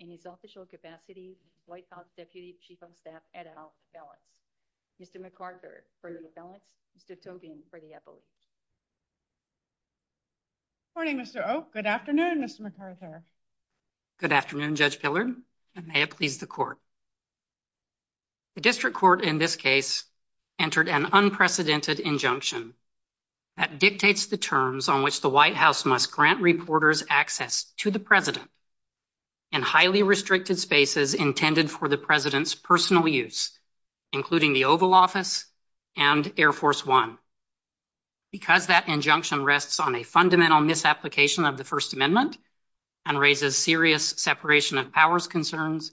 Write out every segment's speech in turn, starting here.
in his official capacity as White House Deputy Chief of Staff at House of Ballots. Mr. McArthur for the ballots, Mr. Tobin for the appellate. Good morning, Mr. Oak. Good afternoon, Mr. McArthur. Good afternoon, Judge Gillard, and may it please the Court. The District Court in this case entered an unprecedented injunction that dictates the terms on which the White House must grant reporters access to the President in highly restricted spaces intended for the President's personal use, including the Oval Office and Air Force One. Because that injunction rests on a fundamental misapplication of the First Amendment and raises serious separation of powers concerns,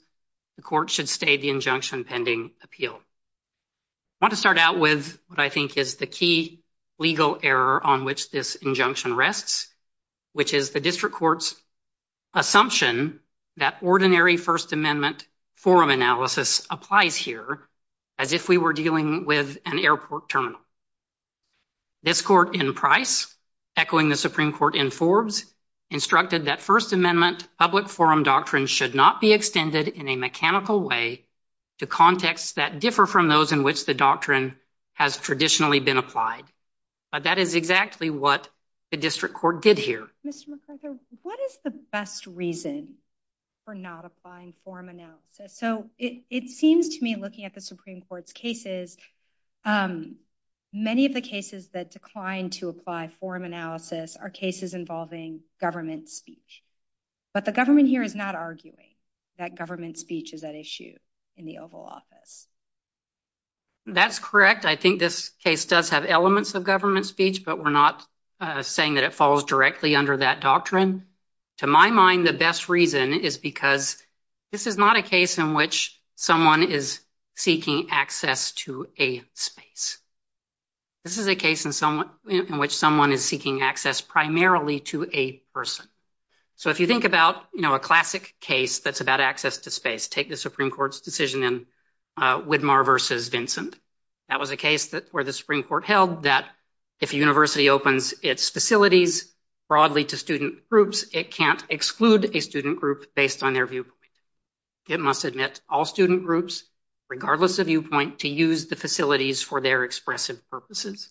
the Court should stay the injunction pending appeal. I want to start out with what I think is the key legal error on which this injunction rests, which is the District Court's assumption that ordinary First Amendment forum analysis applies here as if we were dealing with an airport terminal. This Court in Price, echoing the Supreme Court in Forbes, instructed that First Amendment public forum doctrines should not be extended in a mechanical way to contexts that differ from those in which the doctrine has traditionally been applied. That is exactly what the District Court did here. Mr. McArthur, what is the best reason for not applying forum analysis? So, it seems to me, looking at the Supreme Court's cases, many of the cases that declined to apply forum analysis are cases involving government speech. But the government here is not arguing that government speech is at issue in the Oval Office. That's correct. I think this case does have elements of government speech, but we're not saying that it falls directly under that doctrine. To my mind, the best reason is because this is not a case in which someone is seeking access to a space. This is a case in which someone is seeking access primarily to a person. So, if you think about a classic case that's about access to space, take the Supreme Court's decision in Widmar v. Vincent. That was a case where the Supreme Court held that if a university opens its facilities broadly to student groups, it can't exclude a student group based on their viewpoint. It must admit all student groups, regardless of viewpoint, to use the facilities for their expressive purposes.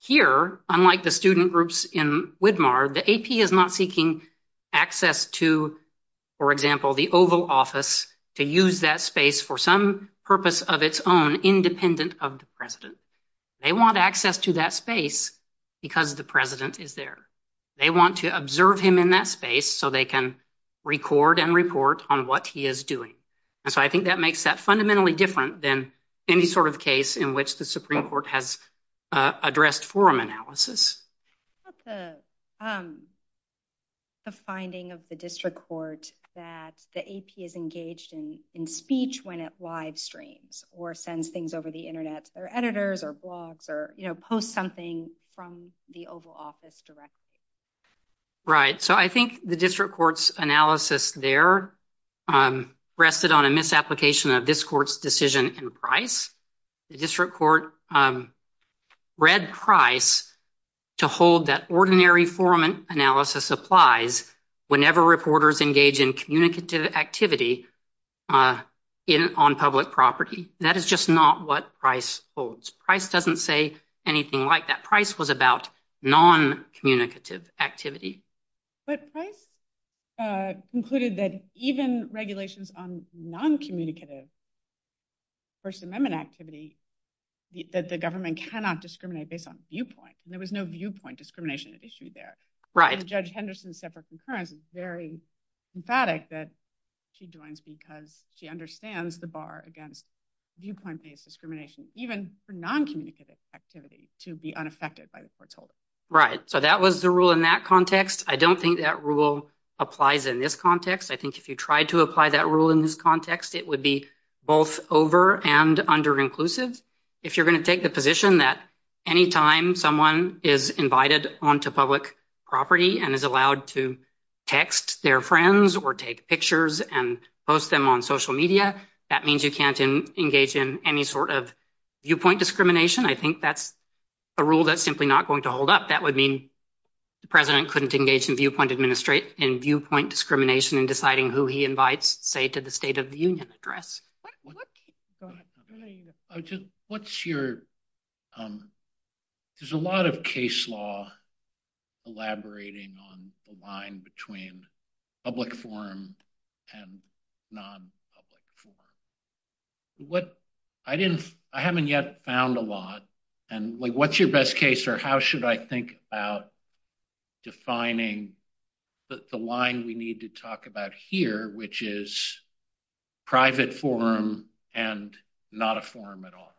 Here, unlike the student groups in Widmar, the AP is not seeking access to, for example, the Oval Office, to use that space for some purpose of its own, independent of the president. They want access to that space because the president is there. They want to observe him in that space so they can record and report on what he is doing. So, I think that makes that fundamentally different than any sort of case in which the Supreme Court has addressed forum analysis. What's the finding of the district court that the AP is engaged in speech when it live streams, or sends things over the Internet, or editors, or blogs, or posts something from the Oval Office directly? Right. So, I think the district court's analysis there rested on a misapplication of this court's decision and price. The district court read price to hold that ordinary forum analysis applies whenever reporters engage in communicative activity on public property. That is just not what price holds. Price doesn't say anything like that. Price was about non-communicative activity. But price concluded that even regulations on non-communicative First Amendment activity that the government cannot discriminate based on viewpoint. There was no viewpoint discrimination at issue there. Right. Judge Henderson's separate concurrence is very emphatic that she joins because she understands the bar against viewpoint-based discrimination, even for non-communicative activity, to be unaffected by the court's holding. Right. So, that was the rule in that context. I don't think that rule applies in this context. I think if you tried to apply that rule in this context, it would be both over- and under-inclusive. If you're going to take the position that anytime someone is invited onto public property and is allowed to text their friends or take pictures and post them on social media, that means you can't engage in any sort of viewpoint discrimination. I think that's a rule that's simply not going to hold up. That would mean the president couldn't engage in viewpoint discrimination in deciding who he invites, say, to the State of the Union's address. There's a lot of case law elaborating on the line between public forum and non-public forum. I haven't yet found a lot. What's your best case, or how should I think about defining the line we need to talk about here, which is private forum and not a forum at all?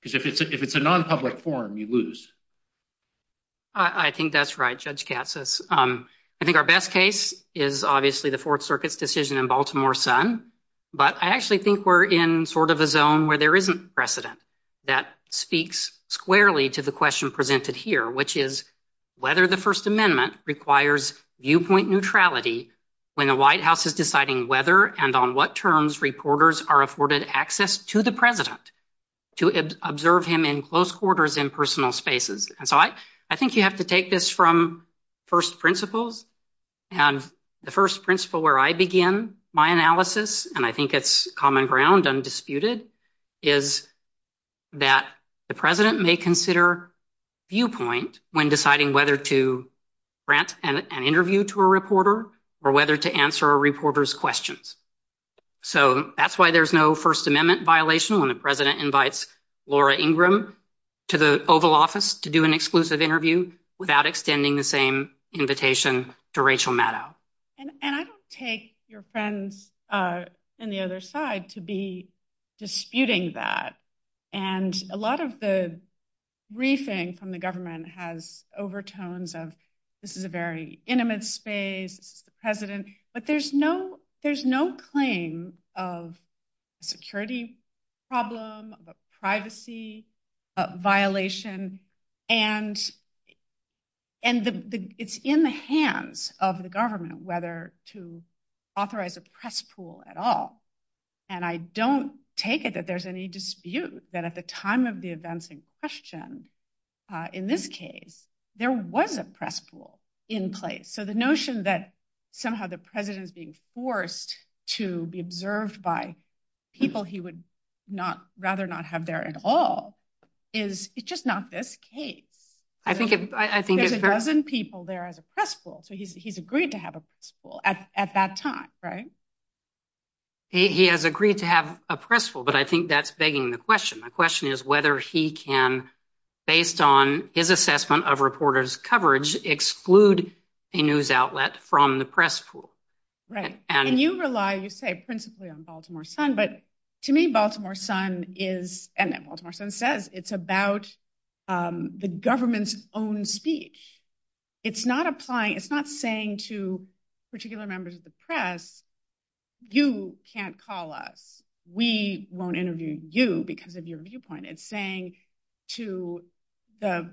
Because if it's a non-public forum, you lose. I think that's right, Judge Katsas. I think our best case is obviously the Fourth Circuit's decision in Baltimore Sun, but I actually think we're in sort of a zone where there isn't precedent that speaks squarely to the question presented here, which is whether the First Amendment requires viewpoint neutrality when the White House is deciding whether and on what terms reporters are afforded access to the president to observe him in close quarters in personal spaces. I think you have to take this from first principles, and the first principle where I begin my analysis, and I think it's common ground undisputed, is that the president may consider viewpoint when deciding whether to grant an interview to a reporter or whether to answer a reporter's questions. That's why there's no First Amendment violation when the president invites Laura Ingram to the Oval Office to do an exclusive interview without extending the same invitation to Rachel Maddow. I don't take your friends on the other side to be disputing that. A lot of the briefing from the government has overtones of this is a very intimate space, the president, but there's no claim of security problem, of privacy violation, and it's in the hands of the government whether to authorize a press pool at all. And I don't take it that there's any dispute that at the time of the events in question, in this case, there was a press pool in place. So the notion that somehow the president's being forced to be observed by people he would rather not have there at all is just not this case. There's a dozen people there as a press pool, so he's agreed to have a press pool at that time, right? He has agreed to have a press pool, but I think that's begging the question. The question is whether he can, based on his assessment of reporters' coverage, exclude a news outlet from the press pool. Right. And you rely, you say, principally on Baltimore Sun, but to me Baltimore Sun is, and then Baltimore Sun says, it's about the government's own speech. It's not applying, it's not saying to particular members of the press, you can't call us. We won't interview you because of your viewpoint. It's saying to the,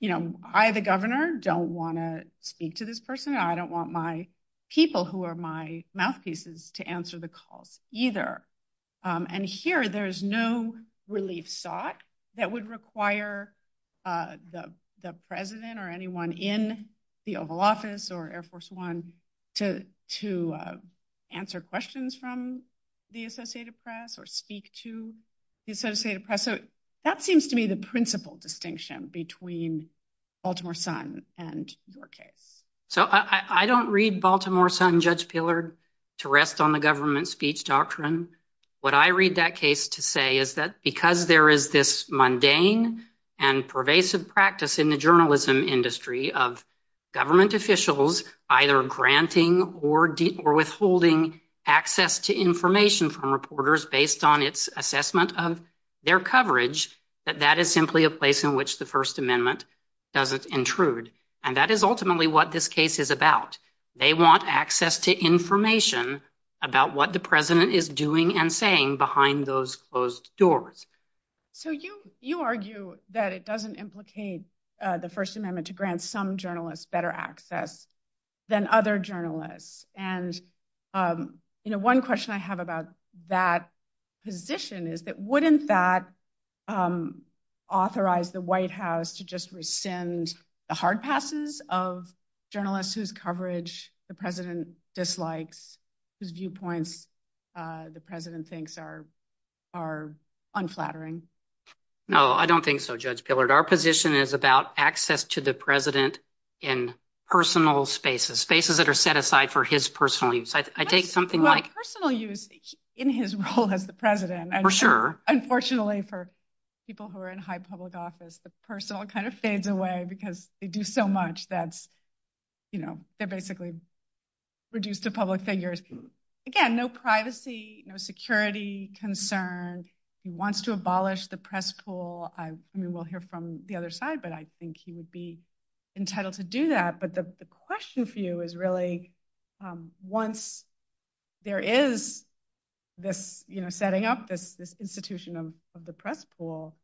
you know, I, the governor, don't want to speak to this person. I don't want my people who are my mouthpieces to answer the call either. And here there is no relief sought that would require the president or anyone in the Oval Office or Air Force One to answer questions from the Associated Press or speak to the Associated Press. So that seems to me the principal distinction between Baltimore Sun and your case. So I don't read Baltimore Sun, Judge Pillard, to rest on the government speech doctrine. What I read that case to say is that because there is this mundane and pervasive practice in the journalism industry of government officials either granting or withholding access to information from reporters based on its assessment of their coverage, that that is simply a place in which the First Amendment doesn't intrude. And that is ultimately what this case is about. They want access to information about what the president is doing and saying behind those closed doors. So you argue that it doesn't implicate the First Amendment to grant some journalists better access than other journalists. And one question I have about that position is that wouldn't that authorize the White House to just rescind the hard passes of journalists whose coverage the president dislikes, whose viewpoints the president thinks are unflattering? No, I don't think so, Judge Pillard. Our position is about access to the president in personal spaces, spaces that are set aside for his personal use. I take something like… Well, personal use in his role as the president. For sure. Unfortunately for people who are in high public office, the personal kind of fades away because they do so much that they're basically reduced to public figures. Again, no privacy, no security concerns. He wants to abolish the press pool. We'll hear from the other side, but I think he would be entitled to do that. But the question for you is really once there is this setting up this institution of the press pool,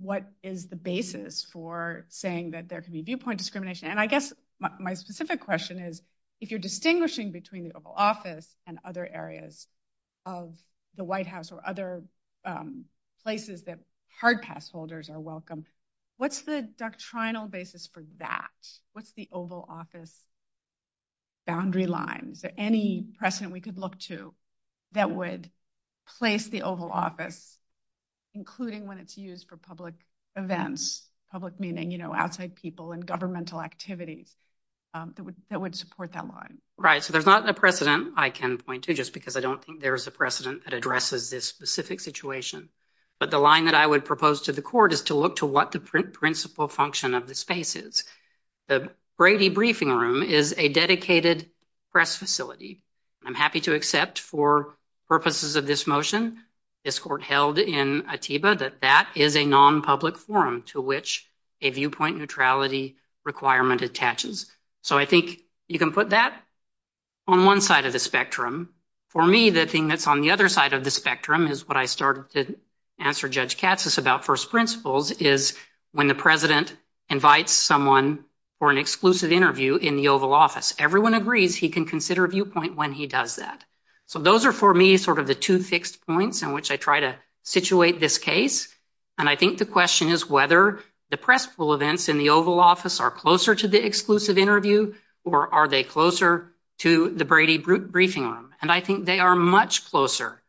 what is the basis for saying that there can be viewpoint discrimination? And I guess my specific question is if you're distinguishing between the Oval Office and other areas of the White House or other places that hard pass holders are welcome, what's the doctrinal basis for that? What's the Oval Office boundary line? Is there any precedent we could look to that would place the Oval Office, including when it's used for public events, public meaning, you know, outside people and governmental activity that would support that line? Right, so there's not a precedent, I can point to, just because I don't think there is a precedent that addresses this specific situation. But the line that I would propose to the court is to look to what the principal function of the space is. The Brady Briefing Room is a dedicated press facility. I'm happy to accept for purposes of this motion, this court held in Ateeba that that is a non-public forum to which a viewpoint neutrality requirement attaches. So I think you can put that on one side of the spectrum. For me, the thing that's on the other side of the spectrum is what I started to answer Judge Katz's about first principles is when the president invites someone for an exclusive interview in the Oval Office. Everyone agrees he can consider viewpoint when he does that. So those are for me sort of the two fixed points in which I try to situate this case. And I think the question is whether the press pool events in the Oval Office are closer to the exclusive interview or are they closer to the Brady Briefing Room? And I think they are much closer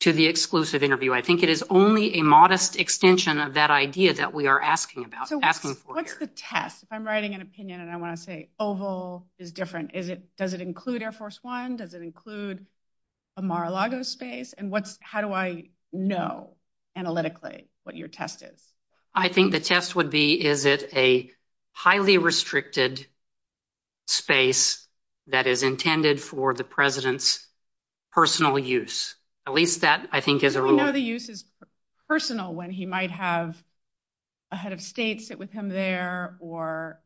to the exclusive interview. I think it is only a modest extension of that idea that we are asking for here. What's the test? If I'm writing an opinion and I want to say Oval is different, does it include Air Force One? Does it include a Mar-a-Lago space? And how do I know analytically what your test is? I think the test would be is it a highly restricted space that is intended for the president's personal use. At least that I think is a rule. One of the uses is personal when he might have a head of state sit with him there or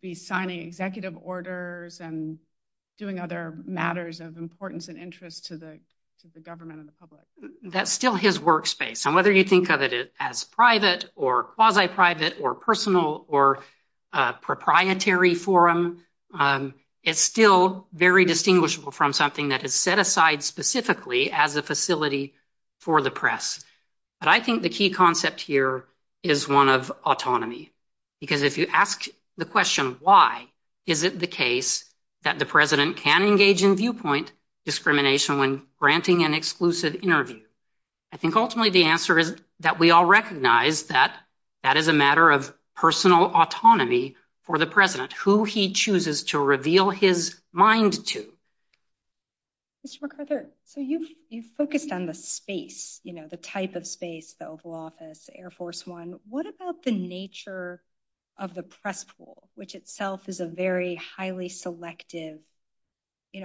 be signing executive orders and doing other matters of importance and interest to the government and the public. That's still his workspace. And whether you think of it as private or quasi-private or personal or proprietary forum, it's still very distinguishable from something that is set aside specifically as a facility for the press. But I think the key concept here is one of autonomy. Because if you ask the question why is it the case that the president can engage in viewpoint discrimination when granting an exclusive interview? I think ultimately the answer is that we all recognize that that is a matter of personal autonomy for the president, who he chooses to reveal his mind to. Mr. McArthur, you focused on the space, the type of space, the Oval Office, Air Force One. What about the nature of the press pool, which itself is a very highly selective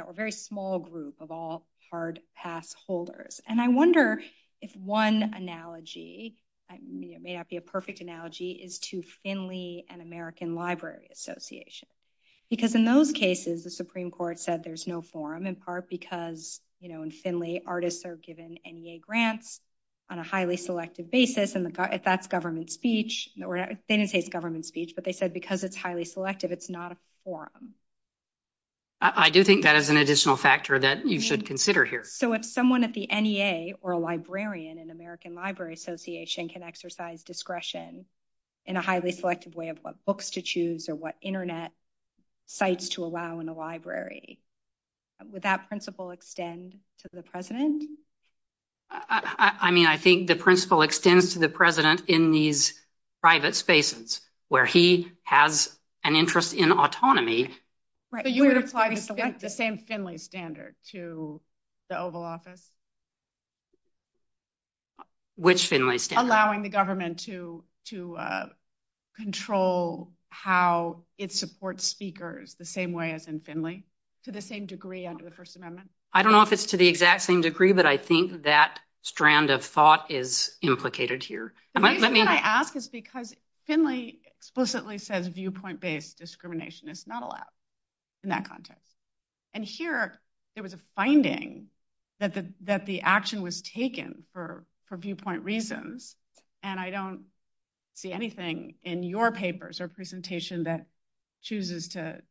or very small group of all hard pass holders? And I wonder if one analogy, it may not be a perfect analogy, is to Finley and American Library Association. Because in those cases, the Supreme Court said there's no forum in part because in Finley, artists are given NEA grants on a highly selective basis. And if that's government speech, they didn't say it's government speech, but they said because it's highly selective, it's not a forum. I do think that is an additional factor that you should consider here. So if someone at the NEA or a librarian in American Library Association can exercise discretion in a highly selective way of what books to choose or what Internet sites to allow in a library, would that principle extend to the president? I mean, I think the principle extends to the president in these private spaces where he has an interest in autonomy. So you would apply the same Finley standard to the Oval Office? Which Finley standard? Allowing the government to control how it supports speakers the same way as in Finley, to the same degree under the First Amendment? I don't know if it's to the exact same degree, but I think that strand of thought is implicated here. The reason I ask is because Finley explicitly says viewpoint-based discrimination is not allowed in that context. And here, there was a finding that the action was taken for viewpoint reasons, and I don't see anything in your papers or presentation that chooses to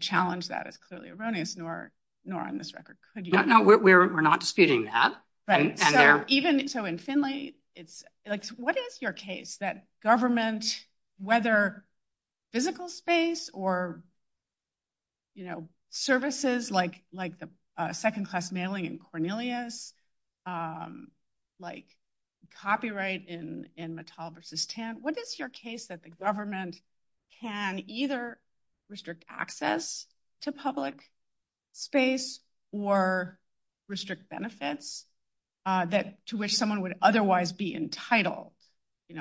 challenge that. It's clearly erroneous, nor on this record could you. No, we're not disputing that. So in Finley, what is your case that government, whether physical space or services like the second-class mailing in Cornelius, like copyright in Mattel versus TAM, what is your case that the government can either restrict access to public space or restrict benefits to which someone would otherwise be entitled? We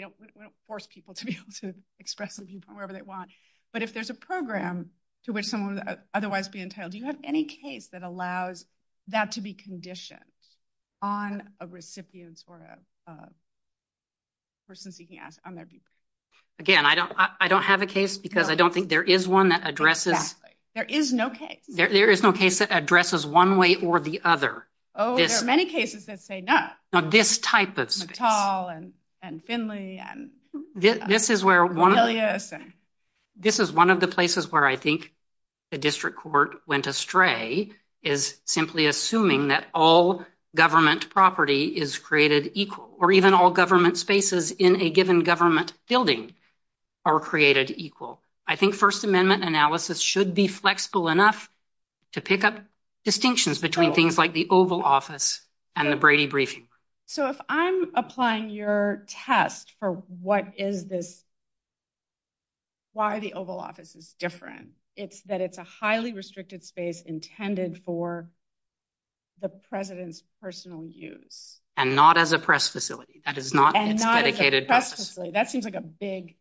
don't force people to be able to express their viewpoint wherever they want. But if there's a program to which someone would otherwise be entitled, do you have any case that allows that to be conditioned on a recipient for a person seeking access on their viewpoint? Again, I don't have a case because I don't think there is one that addresses... Exactly. There is no case. There is no case that addresses one way or the other. Oh, there are many cases that say no. Now, this type of... Mattel and Finley and Cornelius and... This is one of the places where I think the district court went astray is simply assuming that all government property is created equal or even all government spaces in a given government building are created equal. I think First Amendment analysis should be flexible enough to pick up distinctions between things like the Oval Office and the Brady Briefing. If I'm applying your test for why the Oval Office is different, it's that it's a highly restricted space intended for the president's personal use. And not as a press facility. That is not a dedicated... And not as a press facility. That seems like a big...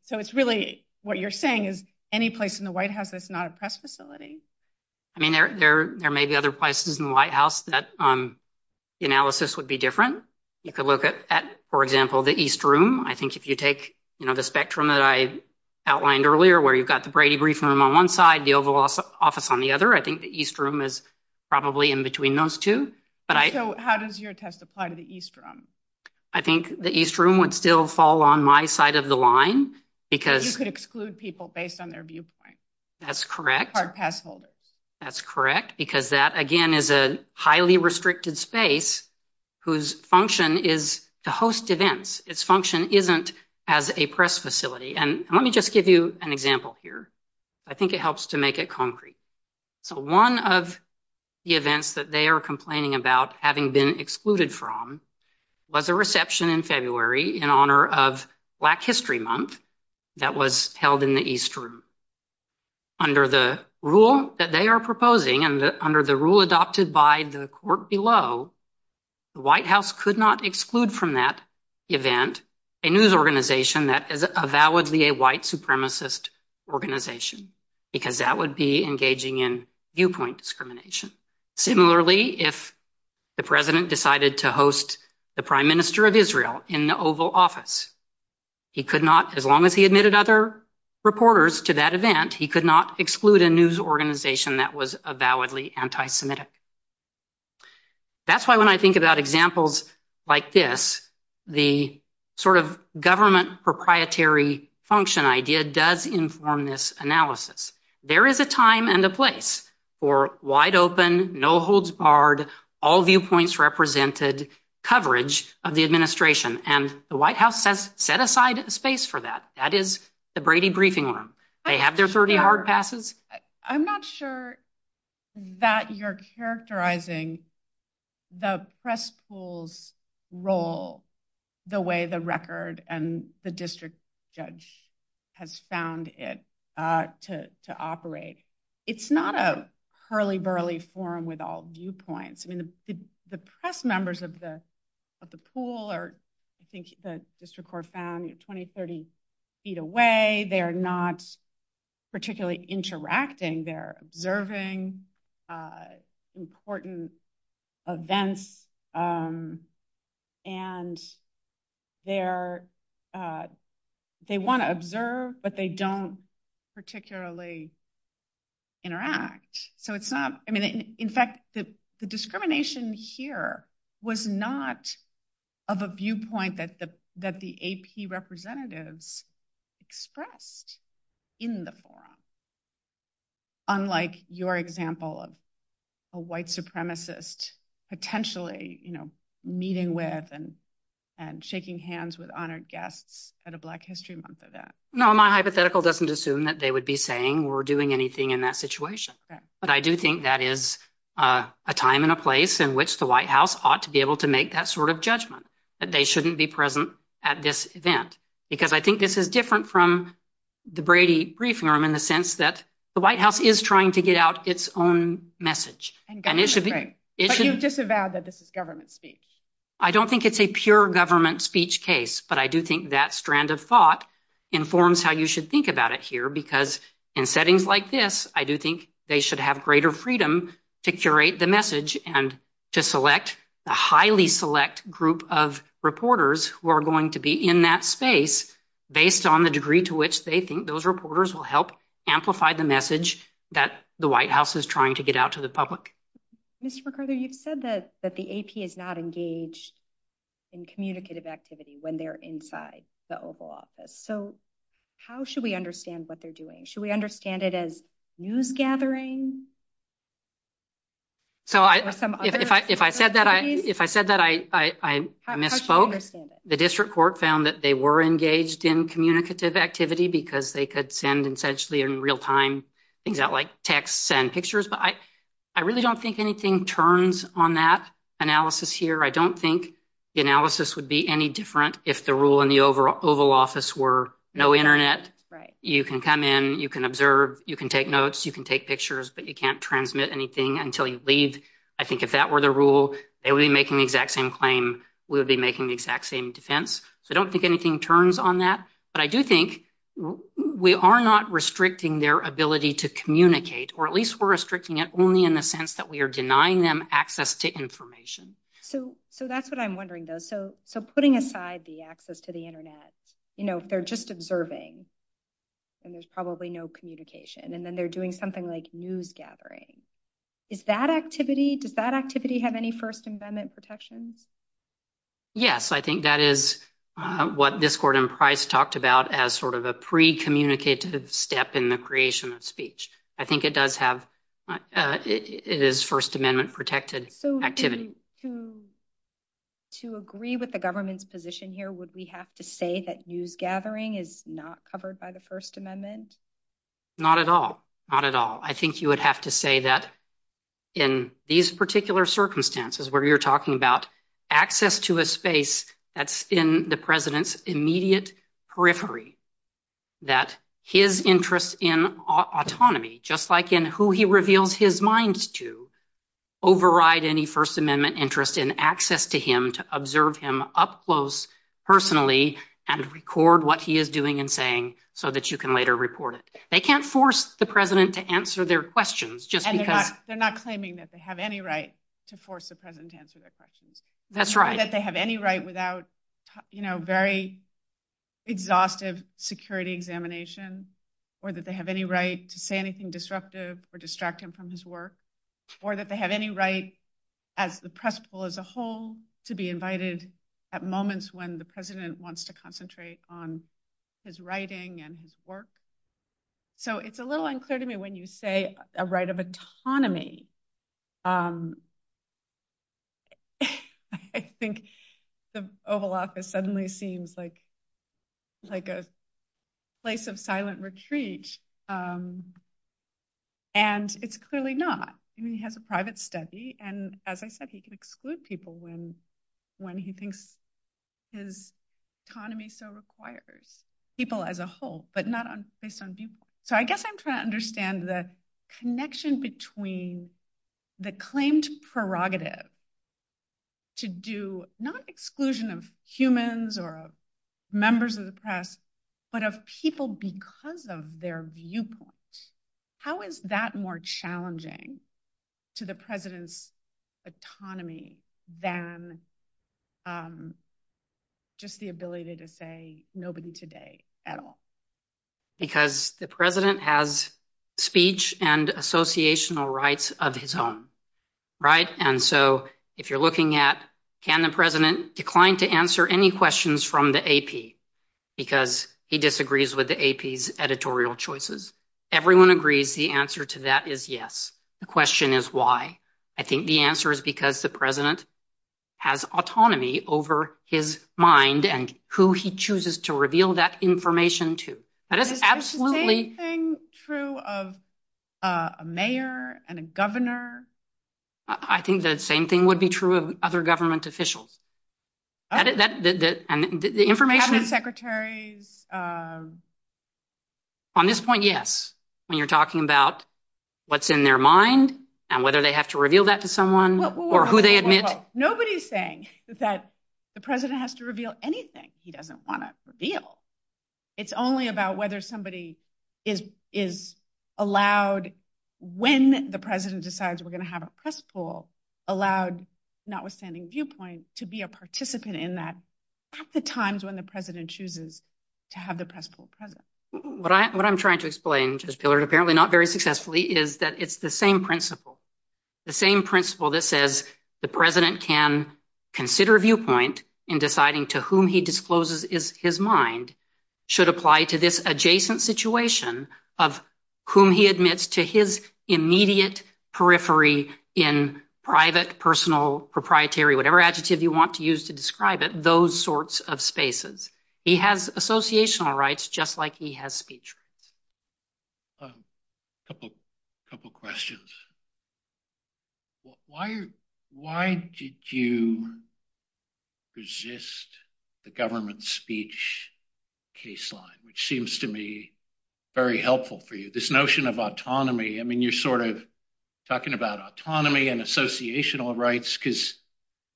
What you're saying is any place in the White House that's not a press facility. I mean, there may be other places in the White House that analysis would be different. You could look at, for example, the East Room. I think if you take the spectrum that I outlined earlier where you've got the Brady Briefing Room on one side, the Oval Office on the other, I think the East Room is probably in between those two. So, how does your test apply to the East Room? I think the East Room would still fall on my side of the line because... You could exclude people based on their viewpoint. That's correct. Hard pass holders. That's correct because that, again, is a highly restricted space whose function is to host events. Its function isn't as a press facility. And let me just give you an example here. I think it helps to make it concrete. So, one of the events that they are complaining about having been excluded from was a reception in February in honor of Black History Month that was held in the East Room. Under the rule that they are proposing and under the rule adopted by the court below, the White House could not exclude from that event a news organization that is validly a white supremacist organization because that would be engaging in viewpoint discrimination. Similarly, if the President decided to host the Prime Minister of Israel in the Oval Office, he could not, as long as he admitted other reporters to that event, he could not exclude a news organization that was validly anti-Semitic. That's why when I think about examples like this, the sort of government proprietary function idea does inform this analysis. There is a time and a place for wide open, no holds barred, all viewpoints represented coverage of the administration. And the White House has set aside a space for that. That is the Brady Briefing Room. They have their 30-hour passes. I'm not sure that you're characterizing the press pool's role the way the record and the district judge has found it to operate. It's not a hurly-burly forum with all viewpoints. The press members of the pool are, I think the district court found, 20, 30 feet away. They're not particularly interacting. They're observing important events, and they want to observe, but they don't particularly interact. In fact, the discrimination here was not of a viewpoint that the AP representatives expressed in the forum, unlike your example of a white supremacist potentially meeting with and shaking hands with honored guests at a Black History Month event. No, my hypothetical doesn't assume that they would be saying or doing anything in that situation. But I do think that is a time and a place in which the White House ought to be able to make that sort of judgment, that they shouldn't be present at this event. Because I think this is different from the Brady Briefing Room in the sense that the White House is trying to get out its own message. But you've disavowed that this is government speech. I don't think it's a pure government speech case, but I do think that strand of thought informs how you should think about it here. Because in settings like this, I do think they should have greater freedom to curate the message and to select a highly select group of reporters who are going to be in that space based on the degree to which they think those reporters will help amplify the message that the White House is trying to get out to the public. Ms. McArthur, you said that the AP is not engaged in communicative activity when they're inside the Oval Office. So how should we understand what they're doing? Should we understand it as news gathering? If I said that I misspoke, the district court found that they were engaged in communicative activity because they could send essentially in real time things out like texts and pictures. But I really don't think anything turns on that analysis here. I don't think the analysis would be any different if the rule in the Oval Office were no Internet. You can come in, you can observe, you can take notes, you can take pictures, but you can't transmit anything until you leave. I think if that were the rule, they would be making the exact same claim, we would be making the exact same defense. So I don't think anything turns on that. But I do think we are not restricting their ability to communicate, or at least we're restricting it only in the sense that we are denying them access to information. So that's what I'm wondering, though. So putting aside the access to the Internet, if they're just observing and there's probably no communication, and then they're doing something like news gathering, is that activity, does that activity have any First Amendment protections? Yes, I think that is what this court in Price talked about as sort of a pre-communicated step in the creation of speech. I think it does have, it is First Amendment protected activity. So to agree with the government's position here, would we have to say that news gathering is not covered by the First Amendment? Not at all. Not at all. I think you would have to say that in these particular circumstances where you're talking about access to a space that's in the president's immediate periphery, that his interest in autonomy, just like in who he reveals his mind to, override any First Amendment interest in access to him to observe him up close, personally, and record what he is doing and saying so that you can later report it. They can't force the president to answer their questions just because— And they're not claiming that they have any right to force the president to answer their questions. That's right. very exhaustive security examination, or that they have any right to say anything disruptive or distract him from his work, or that they have any right as the press pool as a whole to be invited at moments when the president wants to concentrate on his writing and his work. So it's a little unclear to me when you say a right of autonomy, I think the Oval Office suddenly seems like a place of silent retreat, and it's clearly not. I mean, he has a private study, and as I said, he can exclude people when he thinks his autonomy so requires people as a whole, but not based on viewpoints. So I guess I'm trying to understand the connection between the claimed prerogative to do not exclusion of humans or members of the press, but of people because of their viewpoint. How is that more challenging to the president's autonomy than just the ability to say nobody today at all? Because the president has speech and associational rights of his own, right? And so if you're looking at can the president decline to answer any questions from the AP, because he disagrees with the AP's editorial choices, everyone agrees the answer to that is yes. The question is why? I think the answer is because the president has autonomy over his mind and who he chooses to reveal that information to. Is the same thing true of a mayor and a governor? I think the same thing would be true of other government officials. On this point, yes. When you're talking about what's in their mind and whether they have to reveal that to someone or who they admit. Nobody's saying that the president has to reveal anything he doesn't want to reveal. It's only about whether somebody is allowed, when the president decides we're going to have a press pool, allowed notwithstanding viewpoint to be a participant in that at the times when the president chooses to have the press pool present. What I'm trying to explain, apparently not very successfully, is that it's the same principle. The same principle that says the president can consider viewpoint in deciding to whom he discloses his mind should apply to this adjacent situation of whom he admits to his immediate periphery in private, personal, proprietary, whatever adjective you want to use to describe it, those sorts of spaces. He has associational rights just like he has speech. A couple of questions. Why did you resist the government speech case line, which seems to be very helpful for you? This notion of autonomy, I mean, you're sort of talking about autonomy and associational rights because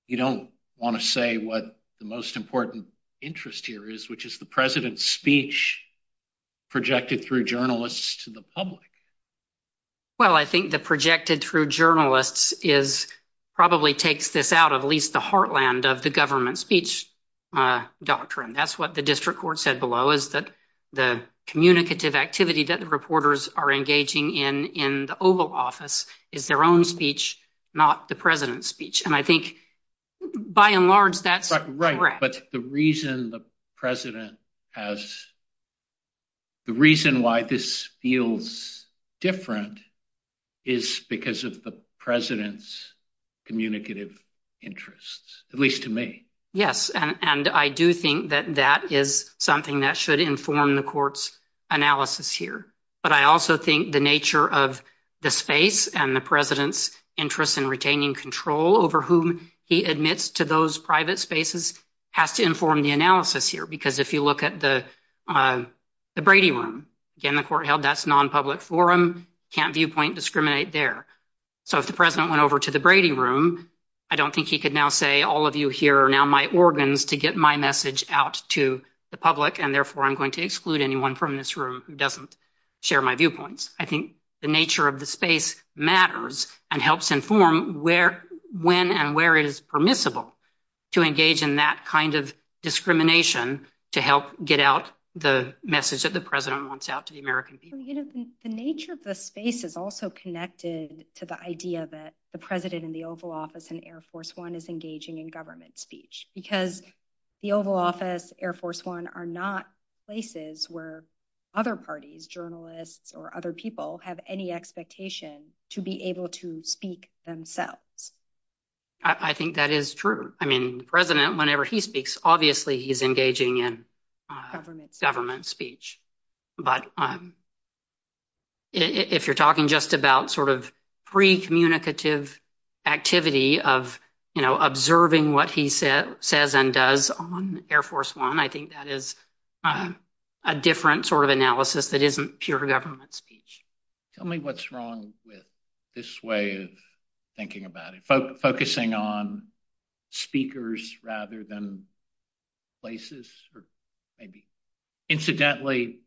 you don't want to say what the most important interest here is, which is the president's speech projected through journalists to the public. Well, I think the projected through journalists probably takes this out of at least the heartland of the government speech doctrine. That's what the district court said below is that the communicative activity that the reporters are engaging in in the Oval Office is their own speech, not the president's speech. And I think, by and large, that's right. But the reason the president has. The reason why this feels different is because of the president's communicative interests, at least to me. Yes, and I do think that that is something that should inform the court's analysis here. But I also think the nature of the space and the president's interest in retaining control over whom he admits to those private spaces has to inform the analysis here. Because if you look at the Brady room in the court held, that's nonpublic forum can't viewpoint discriminate there. So if the president went over to the Brady room, I don't think he could now say all of you here are now my organs to get my message out to the public. And therefore, I'm going to exclude anyone from this room doesn't share my viewpoints. I think the nature of the space matters and helps inform where, when and where it is permissible to engage in that kind of discrimination to help get out the message that the president wants out to the American people. The nature of the space is also connected to the idea that the president in the Oval Office and Air Force One is engaging in government speech because the Oval Office, Air Force One are not places where other parties, journalists or other people have any expectation to be able to speak themselves. I think that is true. I mean, the president, whenever he speaks, obviously, he's engaging in government speech. But if you're talking just about sort of free communicative activity of observing what he said, says and does on Air Force One, I think that is a different sort of analysis that isn't pure government speech. Tell me what's wrong with this way of thinking about it. Focusing on speakers rather than places or maybe incidentally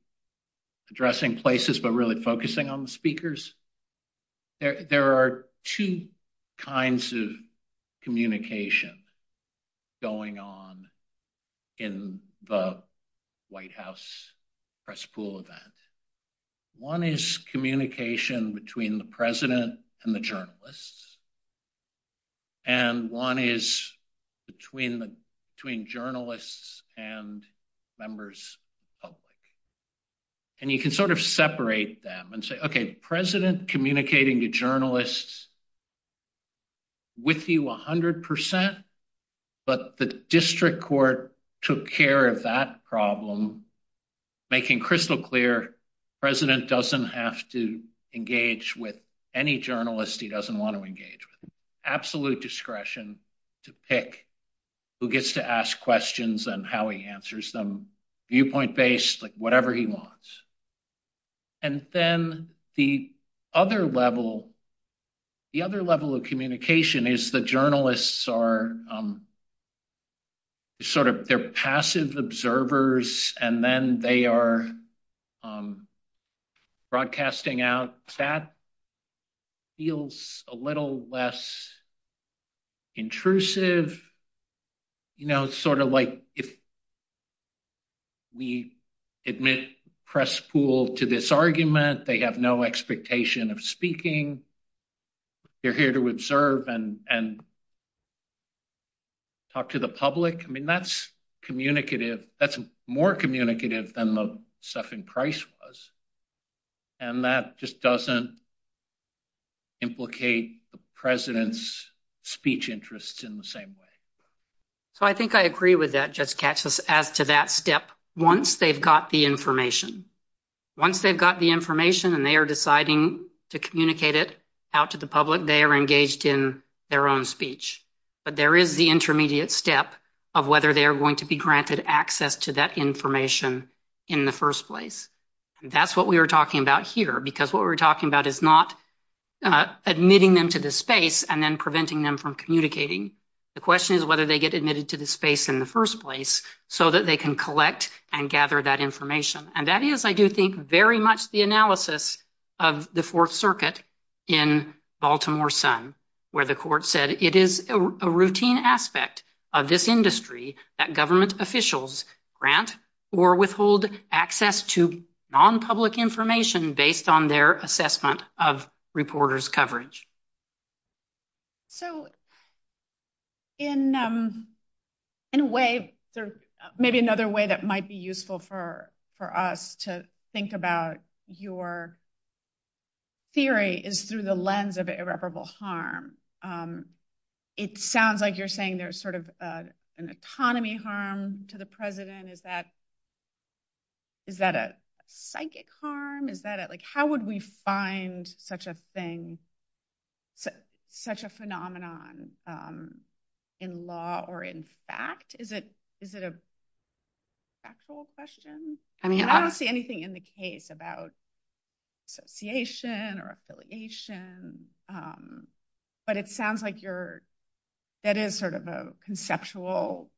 addressing places, but really focusing on speakers. There are two kinds of communication going on in the White House press pool event. One is communication between the president and the journalists. And one is between journalists and members of the public. And you can sort of separate them and say, OK, president communicating to journalists with you 100 percent, but the district court took care of that problem. Making crystal clear, the president doesn't have to engage with any journalist he doesn't want to engage with. Absolute discretion to pick who gets to ask questions and how he answers them, viewpoint based, whatever he wants. And then the other level, the other level of communication is the journalists are sort of their passive observers and then they are broadcasting out that feels a little less intrusive. You know, it's sort of like if we admit press pool to this argument, they have no expectation of speaking. You're here to observe and talk to the public. I mean, that's communicative. That's more communicative than the stuff in Price was. And that just doesn't. Implicate the president's speech interests in the same way. So I think I agree with that. Just catch us after that step. Once they've got the information, once they've got the information and they are deciding to communicate it out to the public, they are engaged in their own speech. But there is the intermediate step of whether they are going to be granted access to that information in the first place. That's what we were talking about here, because what we're talking about is not admitting them to the space and then preventing them from communicating. The question is whether they get admitted to the space in the first place so that they can collect and gather that information. And that is, I do think, very much the analysis of the Fourth Circuit in Baltimore Sun, where the court said it is a routine aspect of this industry that government officials grant or withhold access to non-public information based on their assessment of reporters' coverage. So in a way, maybe another way that might be useful for us to think about your theory is through the lens of irreparable harm. It sounds like you're saying there's sort of an economy harm to the president. Is that a psychic harm? How would we find such a phenomenon in law or in fact? Is it a factual question? I don't see anything in the case about association or affiliation, but it sounds like that is sort of a conceptual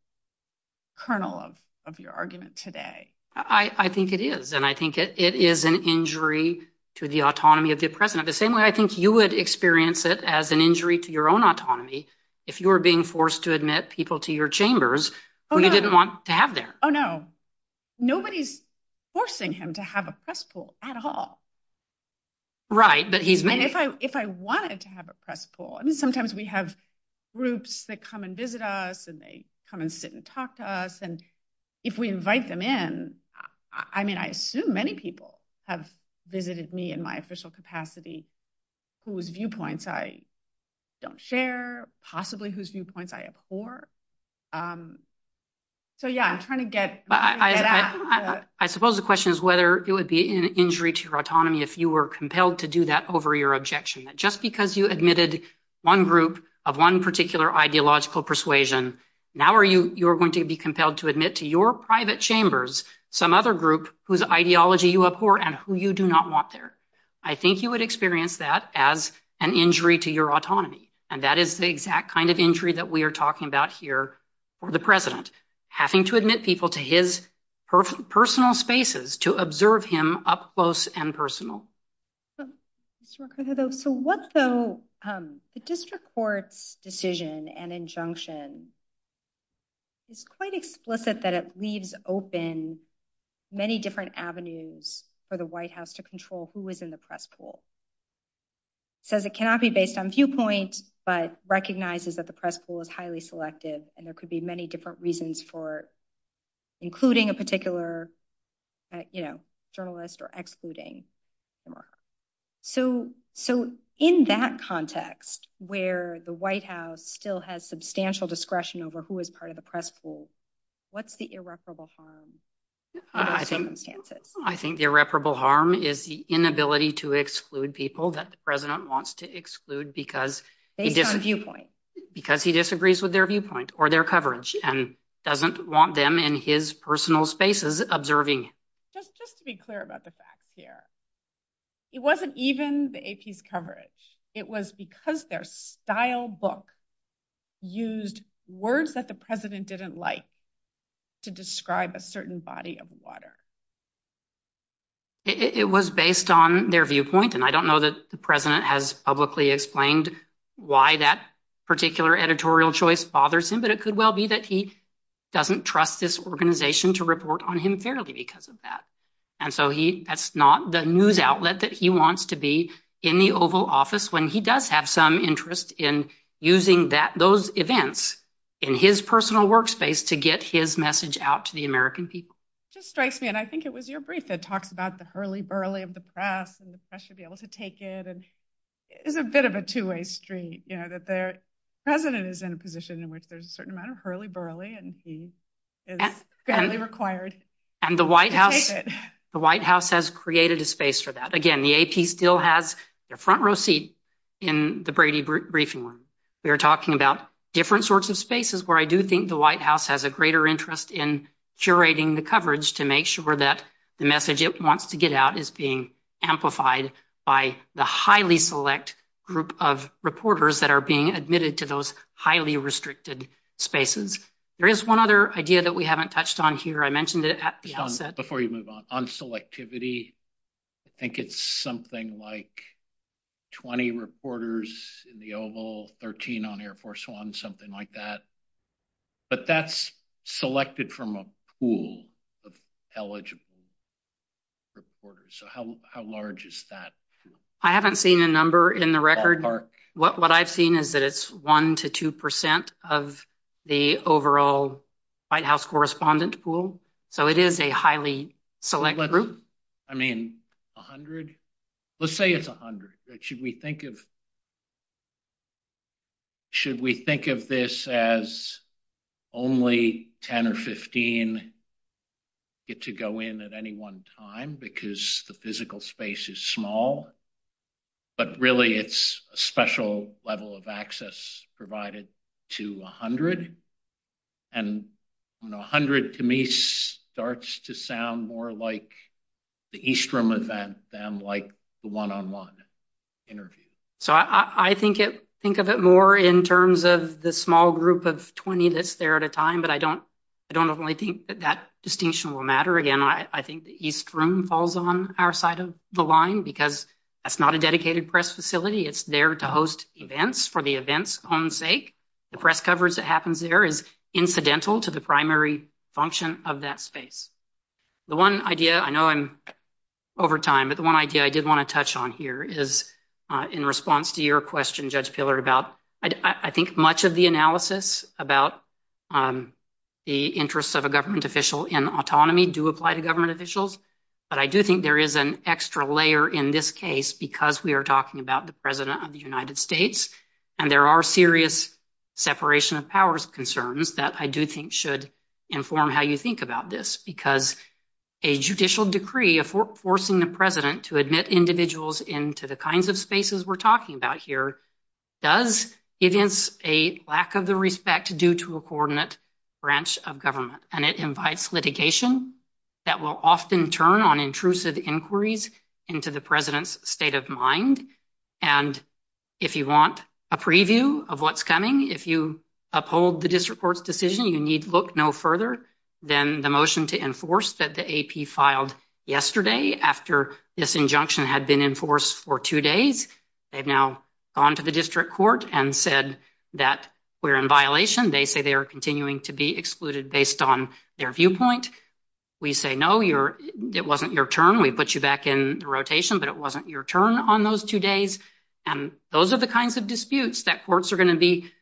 kernel of your argument today. I think it is, and I think it is an injury to the autonomy of the president. The same way I think you would experience it as an injury to your own autonomy if you were being forced to admit people to your chambers who you didn't want to have there. Oh, no. Nobody's forcing him to have a press pool at all. Right. And if I wanted to have a press pool, I mean, sometimes we have groups that come and visit us and they come and sit and talk to us. And if we invite them in, I mean, I assume many people have visited me in my official capacity whose viewpoints I don't share, possibly whose viewpoints I abhor. So, yeah, I'm trying to get I suppose the question is whether it would be an injury to autonomy if you were compelled to do that over your objection, just because you admitted one group of one particular ideological persuasion. Now, are you you're going to be compelled to admit to your private chambers some other group whose ideology you abhor and who you do not want there. I think you would experience that as an injury to your autonomy. And that is the exact kind of injury that we are talking about here for the president having to admit people to his personal spaces to observe him up close and personal. So what's the district court decision and injunction? It's quite explicit that it leaves open many different avenues for the White House to control who is in the press pool. It says it cannot be based on viewpoint, but recognizes that the press pool is highly selective and there could be many different reasons for including a particular, you know, journalist or excluding. So so in that context where the White House still has substantial discretion over who is part of the press pool, what's the irreparable harm? I think the irreparable harm is the inability to exclude people that the president wants to exclude because he disagrees with their viewpoint or their coverage and doesn't want them in his personal spaces observing. Just to be clear about the fact here, it wasn't even the AP's coverage. It was because their style book used words that the president didn't like to describe a certain body of water. It was based on their viewpoint, and I don't know that the president has publicly explained why that particular editorial choice bothers him, but it could well be that he doesn't trust this organization to report on him fairly because of that. And so that's not the news outlet that he wants to be in the Oval Office when he does have some interest in using those events in his personal workspace to get his message out to the American people. It just strikes me, and I think it was your brief that talked about the hurly-burly of the press and the pressure to be able to take it. It's a bit of a two-way street, you know, that the president is in a position in which there's a certain amount of hurly-burly and he is fairly required to take it. And the White House has created a space for that. Again, the AP still has the front row seat in the Brady briefing room. We are talking about different sorts of spaces where I do think the White House has a greater interest in curating the coverage to make sure that the message it wants to get out is being amplified by the highly select group of reporters that are being admitted to those highly restricted spaces. There is one other idea that we haven't touched on here. I mentioned it at the outset. Before you move on, on selectivity, I think it's something like 20 reporters in the Oval, 13 on Air Force One, something like that. But that's selected from a pool of eligible reporters. So how large is that? I haven't seen a number in the record. What I've seen is that it's 1 to 2 percent of the overall White House correspondent pool. So it is a highly select group. I mean, 100? Let's say it's 100. Should we think of this as only 10 or 15 get to go in at any one time because the physical space is small? But really it's a special level of access provided to 100. And 100 to me starts to sound more like the East Room event than like the one-on-one interview. So I think of it more in terms of the small group of 20 that's there at a time. But I don't only think that that distinction will matter. Again, I think the East Room falls on our side of the line because that's not a dedicated press facility. It's there to host events for the event's own sake. The press coverage that happens there is incidental to the primary function of that space. The one idea, I know I'm over time, but the one idea I did want to touch on here is in response to your question, Judge Pillar, about I think much of the analysis about the interests of a government official in autonomy do apply to government officials. But I do think there is an extra layer in this case because we are talking about the President of the United States and there are serious separation of powers concerns that I do think should inform how you think about this. Because a judicial decree forcing the President to admit individuals into the kinds of spaces we're talking about here does evince a lack of the respect due to a coordinate branch of government. And it invites litigation that will often turn on intrusive inquiries into the President's state of mind. And if you want a preview of what's coming, if you uphold the district court's decision, you need look no further than the motion to enforce that the AP filed yesterday after this injunction had been enforced for two days. They've now gone to the district court and said that we're in violation. They say they are continuing to be excluded based on their viewpoint. We say, no, it wasn't your turn. We put you back in the rotation, but it wasn't your turn on those two days. And those are the kinds of disputes that courts are going to be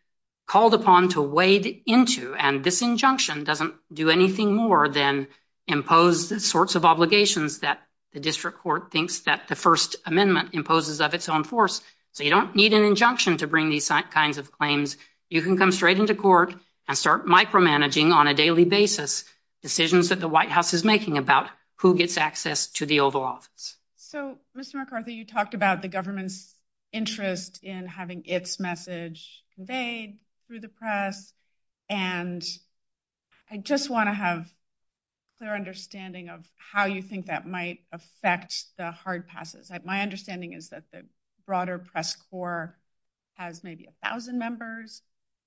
called upon to wade into. And this injunction doesn't do anything more than impose the sorts of obligations that the district court thinks that the First Amendment imposes of its own force. So you don't need an injunction to bring these kinds of claims. You can come straight into court and start micromanaging on a daily basis decisions that the White House is making about who gets access to the Oval Office. So, Mr. McCarthy, you talked about the government's interest in having its message conveyed through the press. And I just want to have a clear understanding of how you think that might affect the hard passes. My understanding is that the broader press corps has maybe a thousand members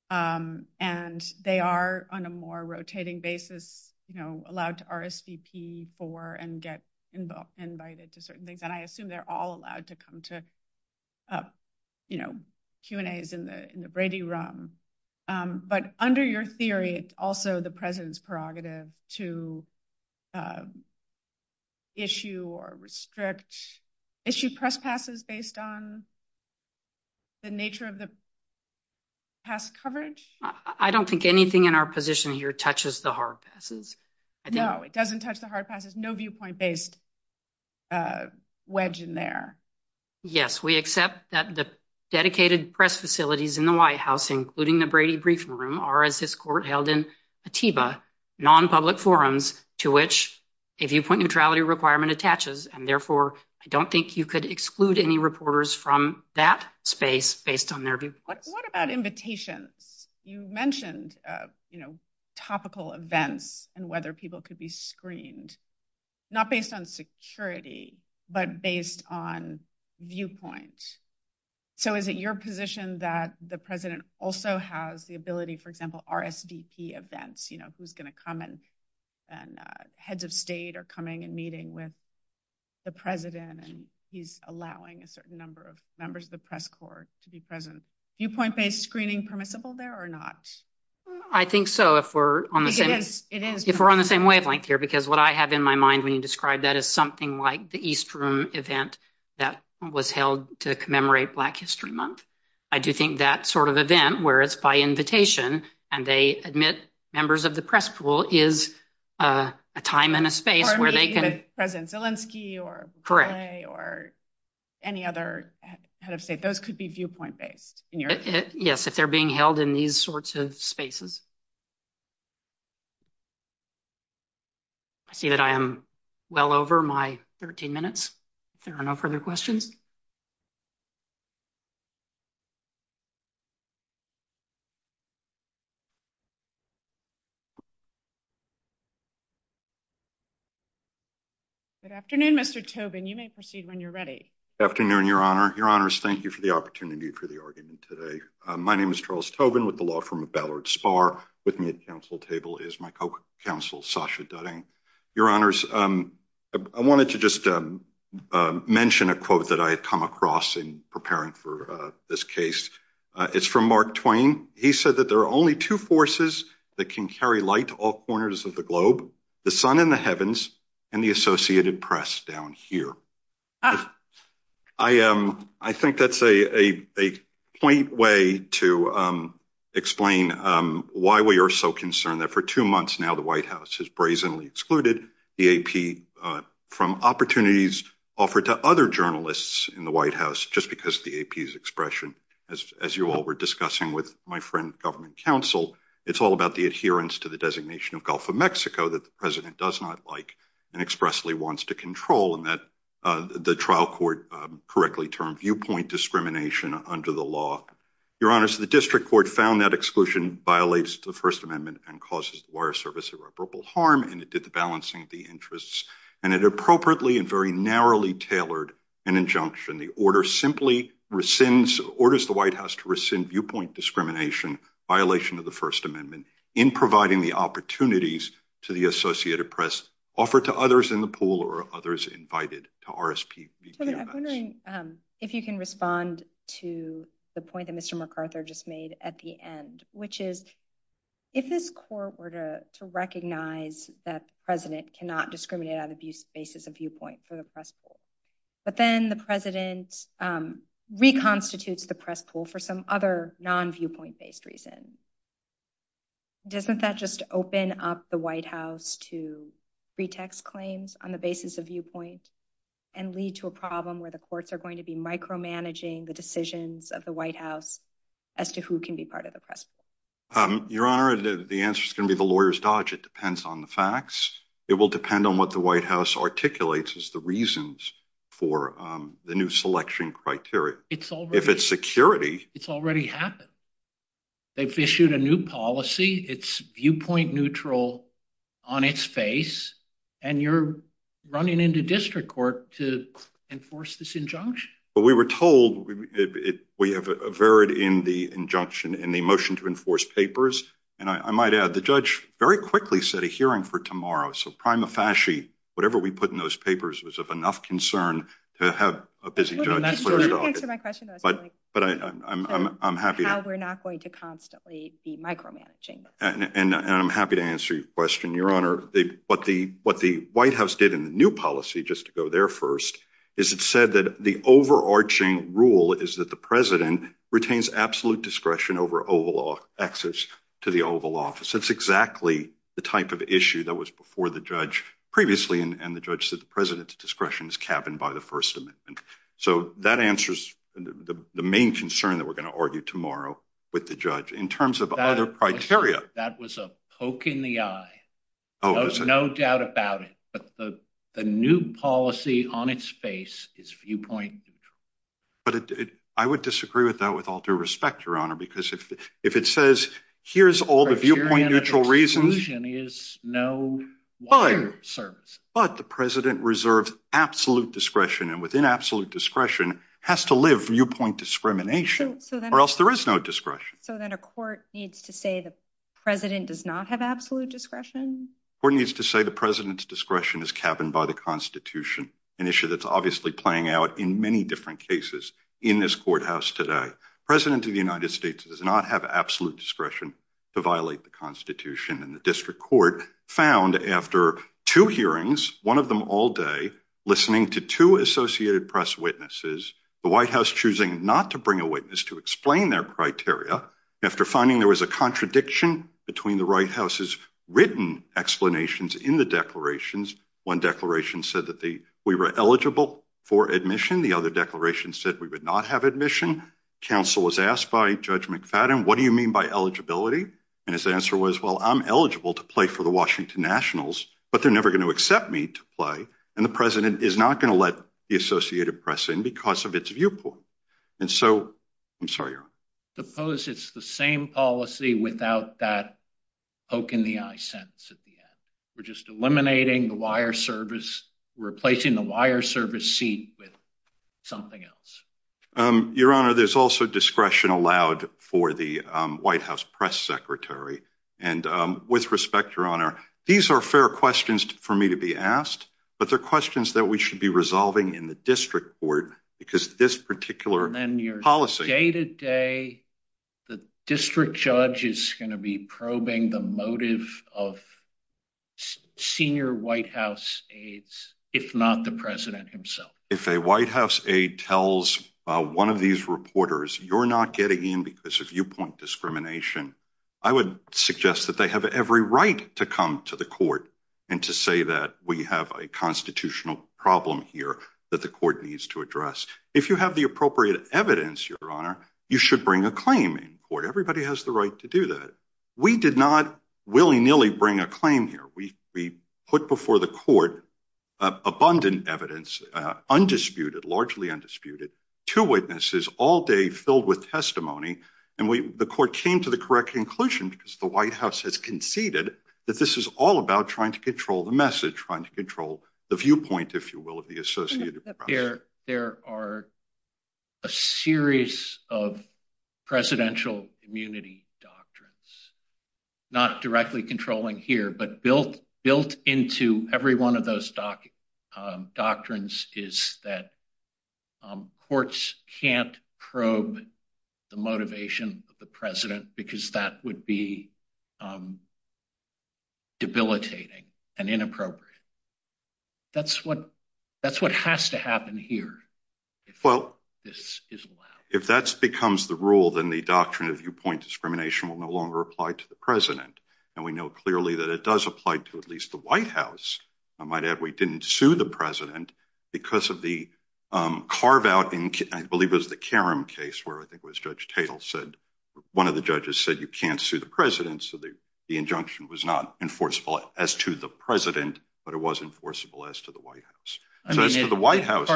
and they are on a more rotating basis allowed to RSVP for and get invited to certain things. And I assume they're all allowed to come to Q&As in the Brady Room. But under your theory, it's also the President's prerogative to issue or restrict, issue press passes based on the nature of the press coverage? I don't think anything in our position here touches the hard passes. No, it doesn't touch the hard passes. No viewpoint-based wedge in there. Yes, we accept that the dedicated press facilities in the White House, including the Brady Briefing Room, are, as this court held in Atiba, non-public forums to which a viewpoint neutrality requirement attaches. And therefore, I don't think you could exclude any reporters from that space based on their viewpoint. What about invitation? You mentioned, you know, topical events and whether people could be screened, not based on security, but based on viewpoints. So is it your position that the President also has the ability, for example, RSVP events? You know, who's going to come and heads of state are coming and meeting with the President, and he's allowing a certain number of members of the press corps to be present. Viewpoint-based screening permissible there or not? I think so, if we're on the same wavelength here, because what I have in my mind when you describe that is something like the East Room event that was held to commemorate Black History Month. I do think that sort of event, where it's by invitation, and they admit members of the press corps, is a time and a space where they can- President Zelensky or- Correct. Or any other head of state. Those could be viewpoint-based. Yes, if they're being held in these sorts of spaces. I see that I am well over my 13 minutes. If there are no further questions. Good afternoon, Mr. Tobin. You may proceed when you're ready. Good afternoon, Your Honor. Your Honors, thank you for the opportunity for the argument today. My name is Charles Tobin with the law firm of Ballard Spahr. With me at the council table is my co-counsel, Sasha Dutting. Your Honors, I wanted to just mention a quote that I had come across in preparing for this case. It's from Mark Twain. He said that, I think that's a point way to explain why we are so concerned that for two months now, the White House has brazenly excluded the AP from opportunities offered to other journalists in the White House, just because the AP's expression, as you all were discussing with my friend, government counsel, it's all about the adherence to the designation of Gulf of Mexico that the president does not like and expressly wants to control, and that the trial court correctly termed viewpoint discrimination under the law. Your Honors, the district court found that exclusion violates the First Amendment and causes the wire service irreparable harm, and it did the balancing of the interests, and it appropriately and very narrowly tailored an injunction. The order simply rescinds, orders the White House to rescind viewpoint discrimination violation of the First Amendment in providing the opportunities to the Associated Press offered to others in the pool or others invited to RSP. I'm wondering if you can respond to the point that Mr. MacArthur just made at the end, which is, if this court were to recognize that the president cannot discriminate on the basis of viewpoint for the press pool, but then the president reconstitutes the press pool for some other non-viewpoint-based reason, doesn't that just open up the White House to pretext claims on the basis of viewpoint and lead to a problem where the courts are going to be micromanaging the decisions of the White House as to who can be part of the press pool? Your Honor, the answer is going to be the lawyer's dodge. It depends on the facts. It will depend on what the White House articulates as the reasons for the new selection criteria. If it's security, it's already happened. They've issued a new policy. It's viewpoint neutral on its face, and you're running into district court to enforce this injunction. We were told we have a verit in the injunction in the motion to enforce papers, and I might add, the judge very quickly set a hearing for tomorrow, so prima facie, whatever we put in those papers was of enough concern to have a busy judge. But I'm happy. We're not going to constantly be micromanaging. I'm happy to answer your question, Your Honor. What the White House did in the new policy, just to go there first, is it said that the overarching rule is that the president retains absolute discretion over access to the Oval Office. That's exactly the type of issue that was before the judge previously, and the judge said the president's discretion is cabined by the First Amendment. So that answers the main concern that we're going to argue tomorrow with the judge in terms of other criteria. That was a poke in the eye. No doubt about it. But the new policy on its face is viewpoint neutral. But I would disagree with that with all due respect, Your Honor, because if it says, here's all the viewpoint neutral reasons. The criterion of exclusion is no wire service. But the president reserves absolute discretion and within absolute discretion has to live viewpoint discrimination or else there is no discretion. So then a court needs to say the president does not have absolute discretion? Court needs to say the president's discretion is cabined by the Constitution, an issue that's obviously playing out in many different cases in this courthouse today. The president of the United States does not have absolute discretion to violate the Constitution. And the district court found after two hearings, one of them all day, listening to two Associated Press witnesses, the White House choosing not to bring a witness to explain their criteria. After finding there was a contradiction between the White House's written explanations in the declarations, one declaration said that we were eligible for admission. The other declaration said we would not have admission. Counsel was asked by Judge McFadden, what do you mean by eligibility? And his answer was, well, I'm eligible to play for the Washington Nationals, but they're never going to accept me to play. And the president is not going to let the Associated Press in because of its viewpoint. And so I'm sorry, Your Honor. Suppose it's the same policy without that poke in the eye sentence at the end. We're just eliminating the wire service, replacing the wire service seat with something else. Your Honor, there's also discretion allowed for the White House press secretary. And with respect, Your Honor, these are fair questions for me to be asked. But they're questions that we should be resolving in the district court because this particular policy. Day to day, the district judge is going to be probing the motive of senior White House aides, if not the president himself. If a White House aide tells one of these reporters you're not getting in because of viewpoint discrimination, I would suggest that they have every right to come to the court and to say that we have a constitutional problem here that the court needs to address. If you have the appropriate evidence, Your Honor, you should bring a claim in court. Everybody has the right to do that. We did not willy nilly bring a claim here. We put before the court abundant evidence, undisputed, largely undisputed, two witnesses all day filled with testimony. And the court came to the correct conclusion because the White House has conceded that this is all about trying to control the message, trying to control the viewpoint, if you will, of the associated. There are a series of presidential immunity doctrines not directly controlling here, but built into every one of those doctrines is that courts can't probe the motivation of the president because that would be debilitating and inappropriate. That's what that's what has to happen here. Well, if that's becomes the rule, then the doctrine of viewpoint discrimination will no longer apply to the president. And we know clearly that it does apply to at least the White House. I might add, we didn't sue the president because of the carve out. I believe it was the case where I think it was Judge Tatel said one of the judges said you can't sue the president. So the injunction was not enforceable as to the president, but it was enforceable as to the White House. I mean, the White House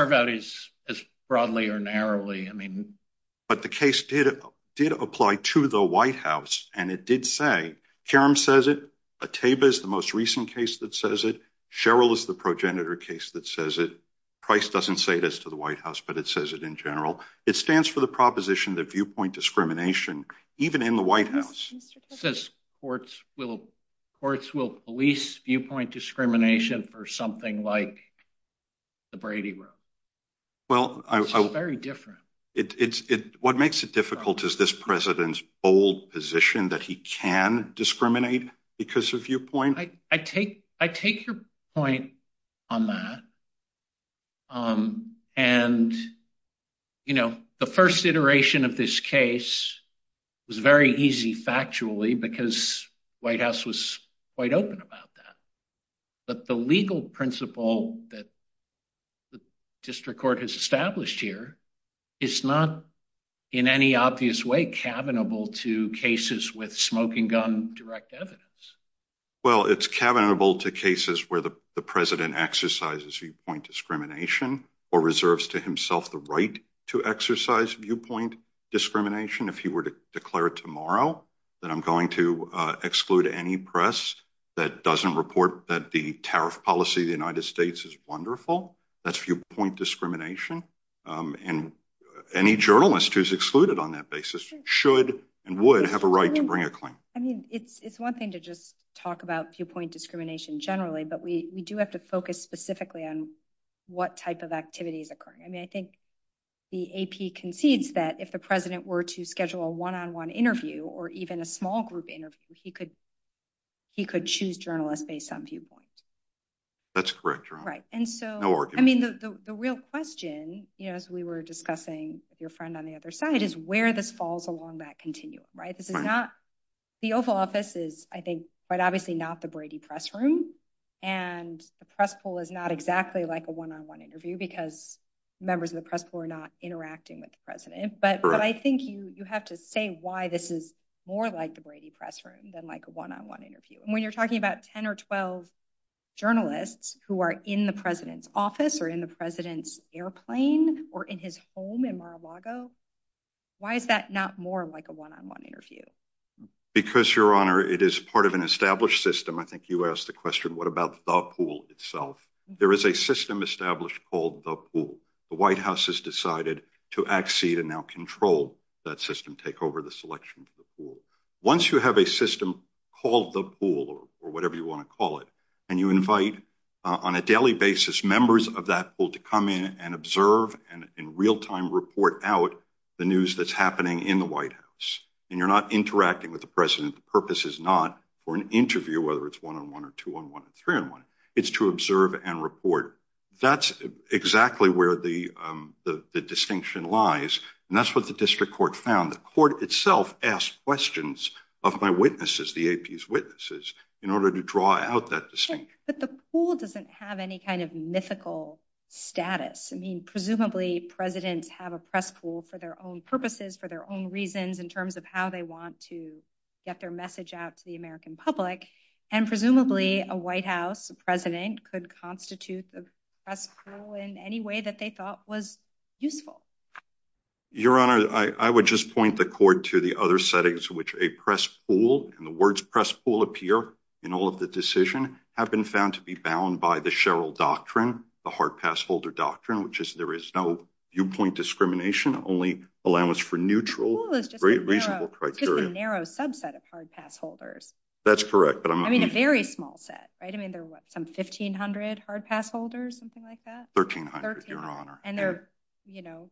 is broadly or narrowly. I mean, but the case did did apply to the White House. And it did say Karen says it. A tape is the most recent case that says it. Cheryl is the progenitor case that says it. Price doesn't say this to the White House, but it says it in general. It stands for the proposition that viewpoint discrimination, even in the White House. It says courts will courts will police viewpoint discrimination for something like the Brady group. Well, I was very different. It's what makes it difficult is this president's old position that he can discriminate because of viewpoint. I take I take your point on that. And, you know, the first iteration of this case was very easy, factually, because White House was quite open about that. But the legal principle that the district court has established here is not in any obvious way cabinable to cases with smoking gun direct evidence. Well, it's cabinable to cases where the president exercises viewpoint discrimination or reserves to himself the right to exercise viewpoint discrimination. If you were to declare tomorrow that I'm going to exclude any press that doesn't report that the tariff policy of the United States is wonderful. That's viewpoint discrimination. And any journalist who's excluded on that basis should and would have a right to bring a claim. I mean, it's one thing to just talk about viewpoint discrimination generally, but we do have to focus specifically on what type of activity is occurring. I mean, I think the AP concedes that if the president were to schedule a one on one interview or even a small group interview, he could he could choose journalists based on viewpoint. That's correct. Right. And so I mean, the real question is we were discussing your friend on the other side is where this falls along that continuum. Right. This is not the Oval Office is, I think, but obviously not the Brady press room. And the press pool is not exactly like a one on one interview because members of the press were not interacting with the president. But I think you have to say why this is more like the Brady press room than like a one on one interview. When you're talking about 10 or 12 journalists who are in the president's office or in the president's airplane or in his home in Mar-a-Lago, why is that not more like a one on one interview? Because, Your Honor, it is part of an established system. I think you asked the question, what about the pool itself? There is a system established called the pool. The White House has decided to accede and now control that system, take over the selection. Once you have a system called the pool or whatever you want to call it and you invite on a daily basis, members of that pool to come in and observe and in real time report out the news that's happening in the White House. And you're not interacting with the president. The purpose is not for an interview, whether it's one on one or two on one or three on one. It's to observe and report. That's exactly where the distinction lies. And that's what the district court found. The court itself asked questions of my witnesses, the AP's witnesses, in order to draw out that distinction. But the pool doesn't have any kind of mythical status. I mean, presumably presidents have a press pool for their own purposes, for their own reasons in terms of how they want to get their message out to the American public. And presumably a White House president could constitute a press pool in any way that they thought was useful. Your Honor, I would just point the court to the other settings in which a press pool and the words press pool appear in all of the decision have been found to be bound by the Sherrill doctrine, the hard pass holder doctrine, which is there is no viewpoint discrimination, only allowance for neutral, reasonable criteria. It's just a narrow subset of hard pass holders. That's correct. I mean, a very small set, right? I mean, there were some 1,500 hard pass holders, something like that? 1,300, Your Honor. And they're, you know,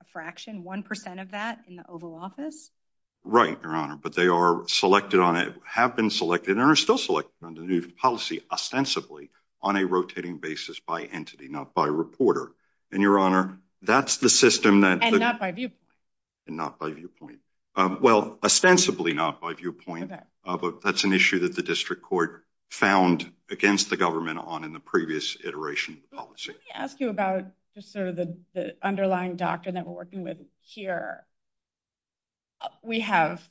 a fraction, 1% of that in the Oval Office? Right, Your Honor. But they are selected on it, have been selected, and are still selected under the new policy ostensibly on a rotating basis by entity, not by reporter. And, Your Honor, that's the system that... And not by viewpoint. And not by viewpoint. Well, ostensibly not by viewpoint. Okay. But that's an issue that the district court found against the government on in the previous iteration of the policy. Let me ask you about just sort of the underlying doctrine that we're working with here. We have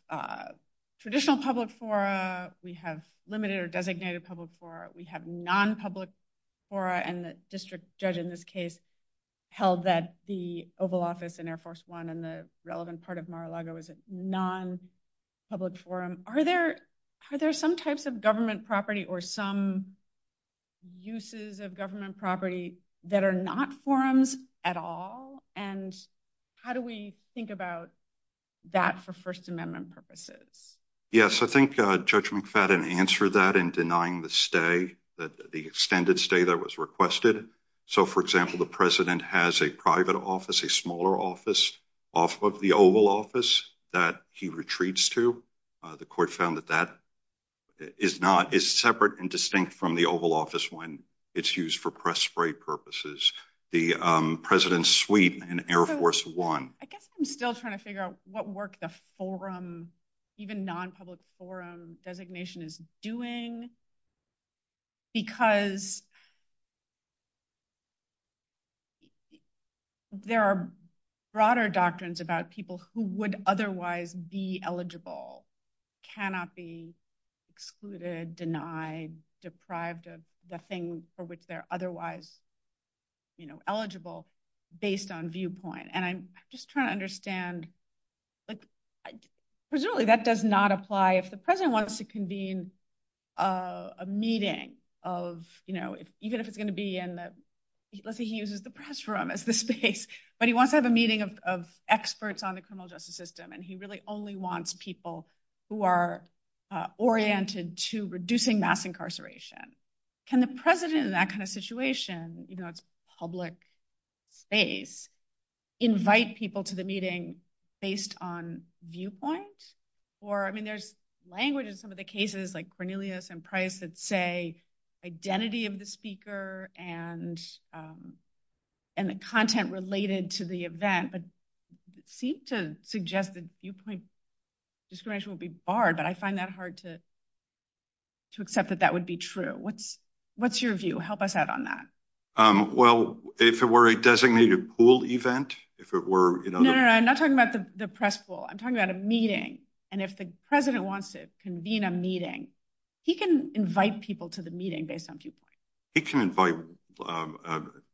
traditional public fora. We have limited or designated public fora. We have non-public fora, and the district judge in this case held that the Oval Office and Air Force One and the relevant part of Mar-a-Lago is a non-public forum. Are there some types of government property or some uses of government property that are not forums at all? And how do we think about that for First Amendment purposes? Yes, I think Judge McFadden answered that in denying the stay, the extended stay that was requested. So, for example, the president has a private office, a smaller office off of the Oval Office that he retreats to. The court found that that is separate and distinct from the Oval Office when it's used for press spray purposes. The president's suite in Air Force One... I guess I'm still trying to figure out what work the forum, even non-public forum designation is doing, because there are broader doctrines about people who would otherwise be eligible, cannot be excluded, denied, deprived of the thing for which they're otherwise eligible based on viewpoint. And I'm just trying to understand... Presumably that does not apply if the president wants to convene a meeting of, you know, even if it's going to be in the... let's say he uses the press room as the space, but he wants to have a meeting of experts on the criminal justice system, and he really only wants people who are oriented to reducing mass incarceration. Can the president, in that kind of situation, you know, it's a public space, invite people to the meeting based on viewpoint? Or, I mean, there's language in some of the cases, like Cornelius and Price, that say identity of the speaker and the content related to the event, but it seems to suggest that viewpoint discrimination would be barred, but I find that hard to accept that that would be true. What's your view? Help us out on that. Well, if it were a designated pool event, if it were... No, no, no, I'm not talking about the press pool. I'm talking about a meeting. And if the president wants to convene a meeting, he can invite people to the meeting based on viewpoint. He can invite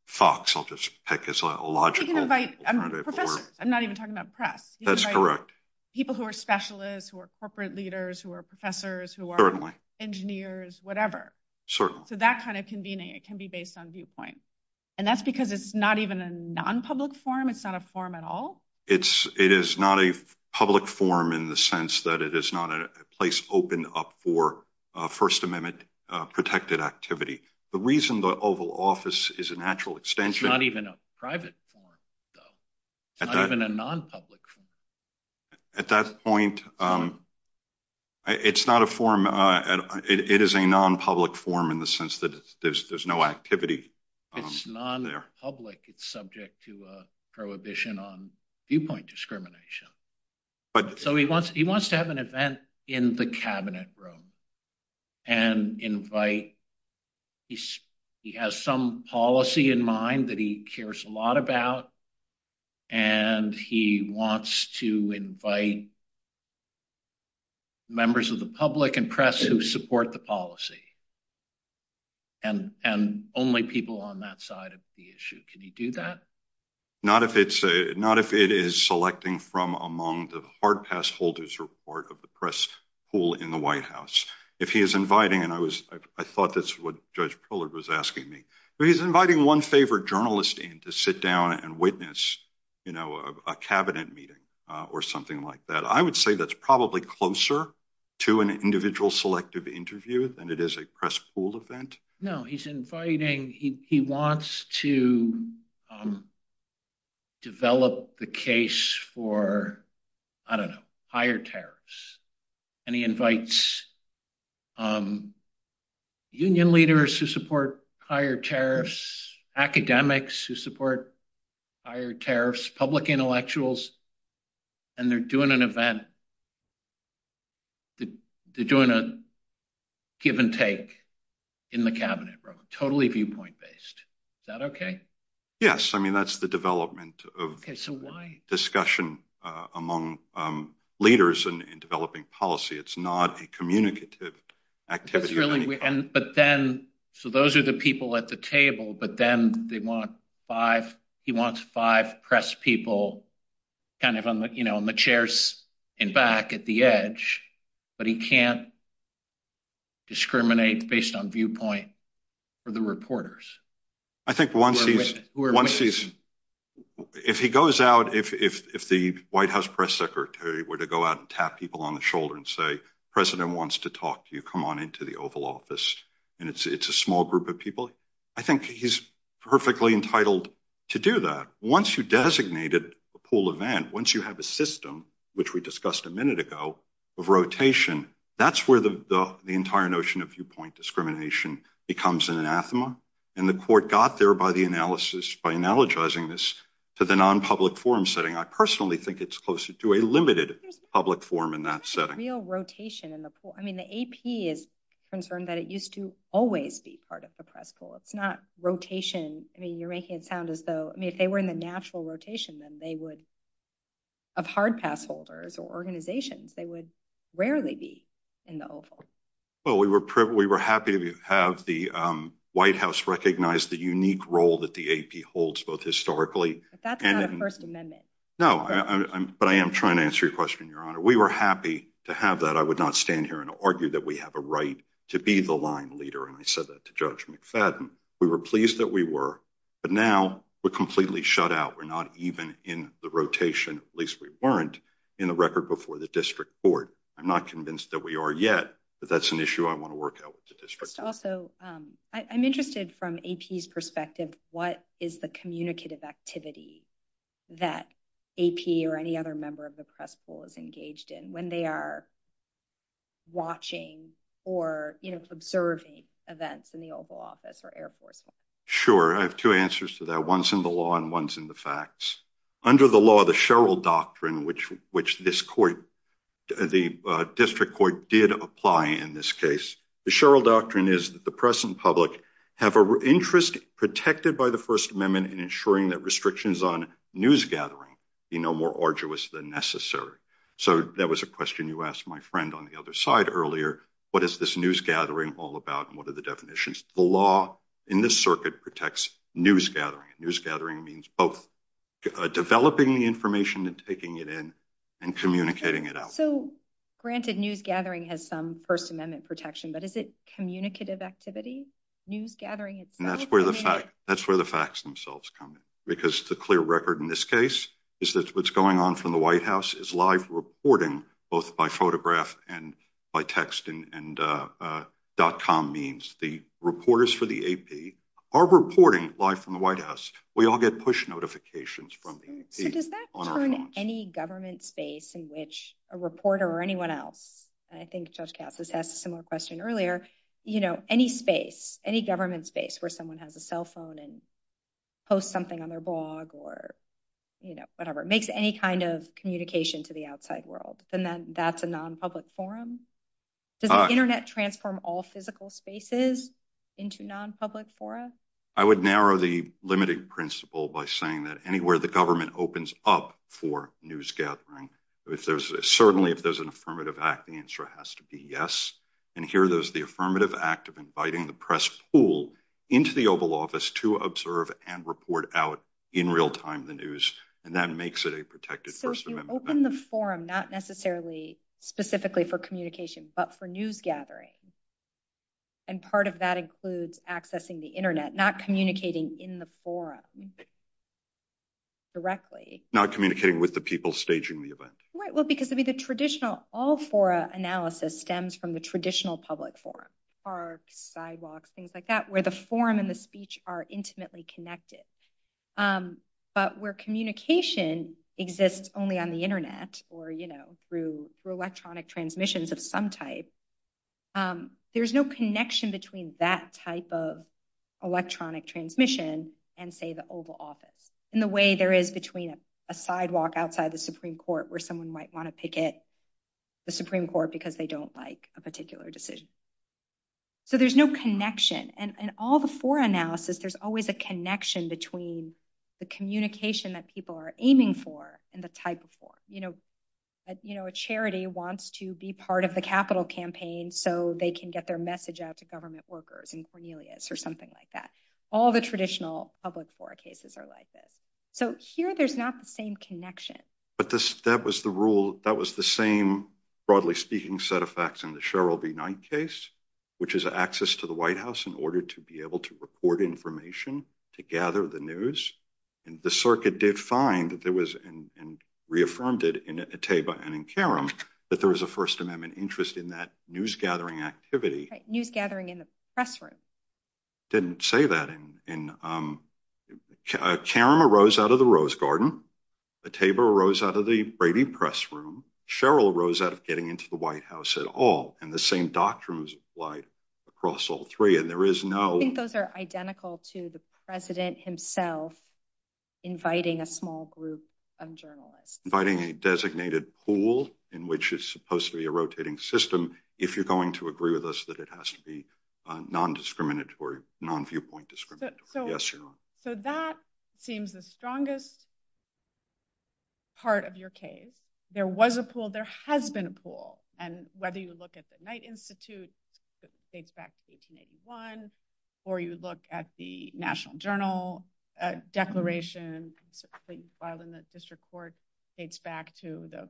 thoughts. I'll just pick a logical... He can invite... I'm not even talking about press. That's correct. People who are specialists, who are corporate leaders, who are professors, who are engineers, whatever. So that kind of convening, it can be based on viewpoint. And that's because it's not even a non-public forum. It's not a forum at all. It is not a public forum in the sense that it is not a place open up for First Amendment protected activity. The reason the Oval Office is a natural extension... It's not even a private forum, though. It's not even a non-public forum. At that point, it's not a forum... It is a non-public forum in the sense that there's no activity there. It's non-public. It's subject to a prohibition on viewpoint discrimination. So he wants to have an event in the cabinet room and invite... He has some policy in mind that he cares a lot about. And he wants to invite members of the public and press who support the policy. And only people on that side of the issue. Can he do that? Not if it is selecting from among the hard pass holders report of the press pool in the White House. If he is inviting... And I thought that's what Judge Pillard was asking me. But he's inviting one favorite journalist in to sit down and witness a cabinet meeting or something like that. I would say that's probably closer to an individual selective interview than it is a press pool event. No, he's inviting... He wants to develop the case for, I don't know, higher tariffs. And he invites union leaders who support higher tariffs. Academics who support higher tariffs. Public intellectuals. And they're doing an event. They're doing a give and take in the cabinet room. Totally viewpoint based. Is that okay? Yes. I mean, that's the development of discussion among leaders in developing policy. It's not a communicative activity. But then... So those are the people at the table. But then they want five... He wants five press people kind of on the chairs and back at the edge. But he can't discriminate based on viewpoint for the reporters. I think once he's... If he goes out... If the White House press secretary were to go out and tap people on the shoulder and say, President wants to talk to you. Come on into the Oval Office. And it's a small group of people. I think he's perfectly entitled to do that. Once you designated a pool event, once you have a system, which we discussed a minute ago, of rotation, that's where the entire notion of viewpoint discrimination becomes an anathema. And the court got there by the analysis, by analogizing this to the non-public forum setting. I personally think it's closer to a limited public forum in that setting. Real rotation in the pool. I mean, the AP is concerned that it used to always be part of the press pool. It's not rotation. I mean, you're making it sound as though... I mean, if they were in the natural rotation, then they would... Of hard pass holders or organizations, they would rarely be in the Oval. Well, we were happy to have the White House recognize the unique role that the AP holds, both historically... But that's not a First Amendment. No, but I am trying to answer your question, Your Honor. We were happy to have that. I would not stand here and argue that we have a right to be the line leader. And I said that to Judge McFadden. We were pleased that we were, but now we're completely shut out. We're not even in the rotation. At least we weren't in the record before the district court. I'm not convinced that we are yet, but that's an issue I want to work out with the district. Also, I'm interested from AP's perspective. What is the communicative activity that AP or any other member of the press pool is engaged in when they are watching or observing events in the Oval Office or airport? Sure. I have two answers to that. One's in the law and one's in the facts. Under the law, the Sherrill Doctrine, which the district court did apply in this case, the Sherrill Doctrine is that the press and public have an interest protected by the First Amendment in ensuring that restrictions on news gathering are no more arduous than necessary. So that was a question you asked my friend on the other side earlier. What is this news gathering all about and what are the definitions? The law in this circuit protects news gathering. News gathering means both developing the information and taking it in and communicating it out. Granted, news gathering has some First Amendment protection, but is it communicative activity? That's where the facts themselves come in. Because the clear record in this case is that what's going on from the White House is live reporting both by photograph and by text and dot com means. The reporters for the AP are reporting live from the White House. We all get push notifications from the AP. So does that turn any government space in which a reporter or anyone else, and I think Judge Katz has asked a similar question earlier, any space, any government space where someone has a cell phone and posts something on their blog or whatever, makes any kind of communication to the outside world, then that's a non-public forum? Does the Internet transform all physical spaces into non-public forums? I would narrow the limited principle by saying that anywhere the government opens up for news gathering, certainly if there's an affirmative act, the answer has to be yes. And here there's the affirmative act of inviting the press pool into the Oval Office to observe and report out in real time the news, and that makes it a protected First Amendment. Open the forum, not necessarily specifically for communication, but for news gathering. And part of that includes accessing the Internet, not communicating in the forum directly. Not communicating with the people staging the event. Right, well, because the traditional all-fora analysis stems from the traditional public forum, parks, sidewalks, things like that, where the forum and the speech are intimately connected. But where communication exists only on the Internet or, you know, through electronic transmissions of some type, there's no connection between that type of electronic transmission and, say, the Oval Office in the way there is between a sidewalk outside the Supreme Court where someone might want to picket the Supreme Court because they don't like a particular decision. So there's no connection. In all the fora analysis, there's always a connection between the communication that people are aiming for and the type of forum. You know, a charity wants to be part of the capital campaign so they can get their message out to government workers in Cornelius or something like that. All the traditional public fora cases are like this. So here there's not the same connection. But that was the rule. That was the same, broadly speaking, set of facts in the Cheryl B. Knight case, which is access to the White House in order to be able to report information, to gather the news. And the circuit did find that there was, and reaffirmed it in Atteba and in Karim, that there was a First Amendment interest in that news-gathering activity. News-gathering in the press room. Didn't say that. Karim arose out of the Rose Garden. Atteba arose out of the Brady Press Room. Cheryl arose out of getting into the White House at all. And the same doctrines applied across all three. And there is no— I think those are identical to the president himself inviting a small group of journalists. Inviting a designated pool in which is supposed to be a rotating system, if you're going to agree with us that it has to be non-discriminatory, non-viewpoint discriminatory. Yes, you're right. So that seems the strongest part of your case. There was a pool. There has been a pool. And whether you look at the Knight Institute, which dates back to 1881, or you look at the National Journal Declaration that you filed in the district court, dates back to the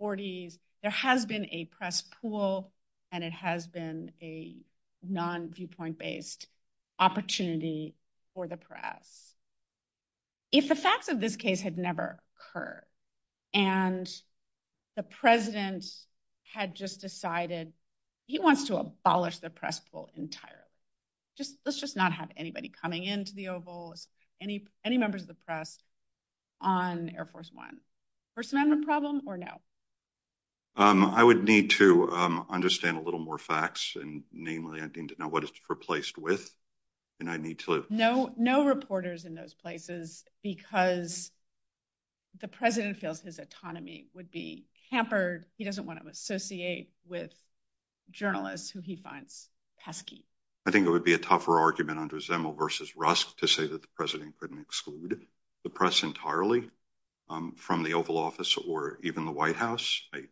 40s, there has been a press pool, and it has been a non-viewpoint-based opportunity for the press. If the fact of this case had never occurred, and the president had just decided he wants to abolish the press pool entirely. Let's just not have anybody coming into the Oval, any members of the press on Air Force One. First Amendment problem or no? I would need to understand a little more facts, and namely I need to know what it's replaced with, and I need to— No reporters in those places because the president feels his autonomy would be hampered. He doesn't want to associate with journalists who he finds pesky. I think it would be a tougher argument under Zemel versus Rusk to say that the president couldn't exclude the press entirely from the Oval Office or even the White House. I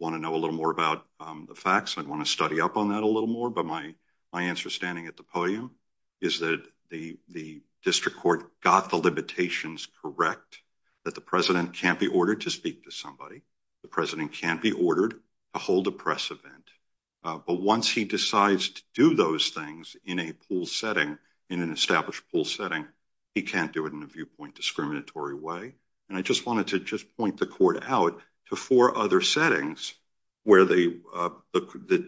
want to know a little more about the facts. I want to study up on that a little more, but my answer standing at the podium is that the district court got the limitations correct, that the president can't be ordered to speak to somebody, the president can't be ordered to hold a press event, but once he decides to do those things in a pool setting, in an established pool setting, he can't do it in a viewpoint discriminatory way, and I just wanted to just point the court out to four other settings where the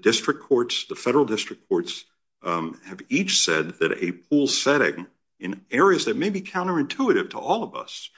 district courts, the federal district courts, have each said that a pool setting in areas that may be counterintuitive to all of us,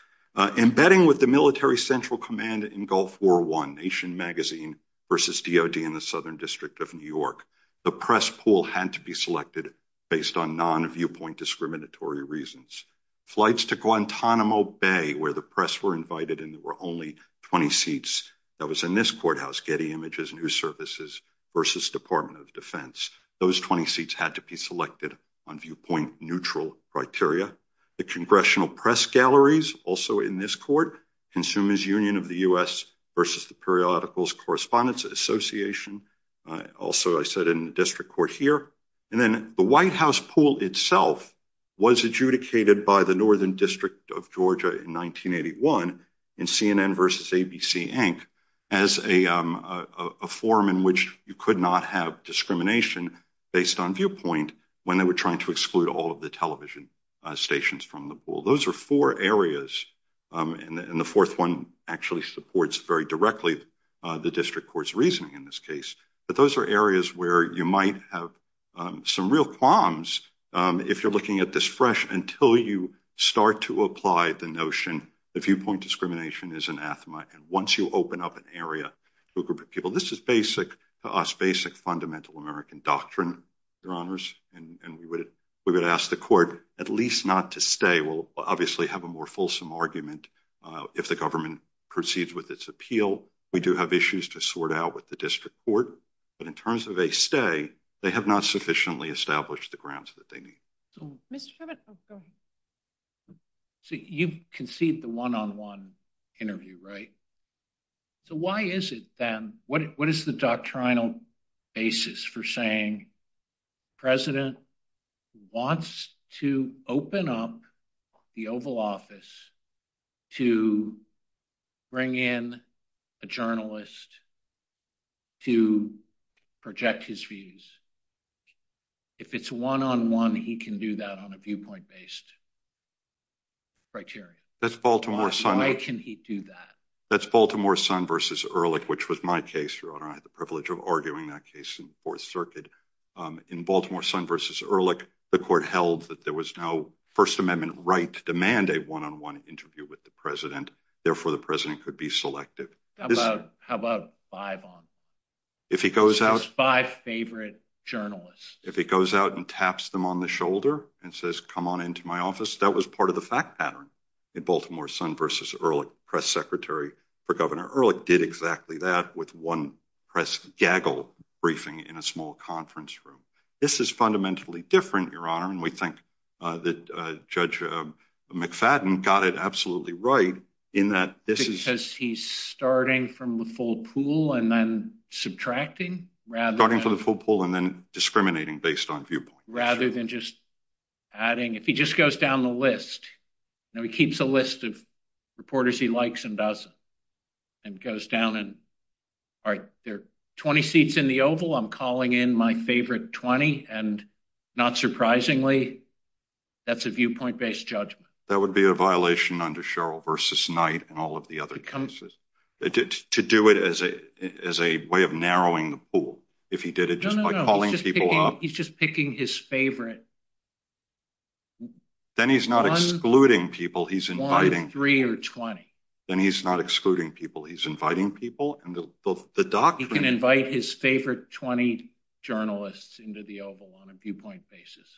embedding with the military central command in Gulf War I, Nation Magazine versus DOD in the Southern District of New York, the press pool had to be selected based on non-viewpoint discriminatory reasons. Flights to Guantanamo Bay, where the press were invited and there were only 20 seats, that was in this courthouse, Getty Images, News Services versus Department of Defense, those 20 seats had to be selected on viewpoint neutral criteria. The Congressional Press Galleries, also in this court, Consumers Union of the U.S. versus the Periodicals Correspondence Association, also I said in the district court here, and then the White House pool itself was adjudicated by the Northern District of Georgia in 1981 in CNN versus ABC Inc. as a form in which you could not have discrimination based on viewpoint when they were trying to exclude all of the television stations from the pool. Those are four areas, and the fourth one actually supports very directly the district court's reasoning in this case, but those are areas where you might have some real problems if you're looking at this fresh until you start to apply the notion that viewpoint discrimination is anathema, and once you open up an area to a group of people. Well, this is basic to us, basic fundamental American doctrine, Your Honors, and we would ask the court at least not to stay. We'll obviously have a more fulsome argument if the government proceeds with its appeal. We do have issues to sort out with the district court, but in terms of a stay, they have not sufficiently established the grounds that they need. So, you conceived the one-on-one interview, right? So, why is it then, what is the doctrinal basis for saying the president wants to open up the Oval Office to bring in a journalist to project his views? If it's one-on-one, he can do that on a viewpoint-based criteria. Why can he do that? That's Baltimore Sun v. Ehrlich, which was my case, Your Honor. I had the privilege of arguing that case in the Fourth Circuit. In Baltimore Sun v. Ehrlich, the court held that there was no First Amendment right to demand a one-on-one interview with the president. Therefore, the president could be selected. How about five? If he goes out- Just five favorite journalists. If he goes out and taps them on the shoulder and says, come on into my office, that was part of the fact pattern in Baltimore Sun v. Ehrlich. Press secretary for Governor Ehrlich did exactly that with one press gaggle briefing in a small conference room. This is fundamentally different, Your Honor, and we think that Judge McFadden got it absolutely right in that this is- He says he's starting from the full pool and then subtracting rather than- Starting from the full pool and then discriminating based on viewpoint. Rather than just adding- If he just goes down the list, he keeps a list of reporters he likes and doesn't, and goes down and- All right, there are 20 seats in the Oval. I'm calling in my favorite 20, and not surprisingly, that's a viewpoint-based judgment. That would be a violation under Sherrill v. Knight and all of the other cases. To do it as a way of narrowing the pool, if he did it just by calling people up- He's just picking his favorite- Then he's not excluding people. He's inviting- One, three, or 20. Then he's not excluding people. He's inviting people, and the doctrine- He can invite his favorite 20 journalists into the Oval on a viewpoint basis.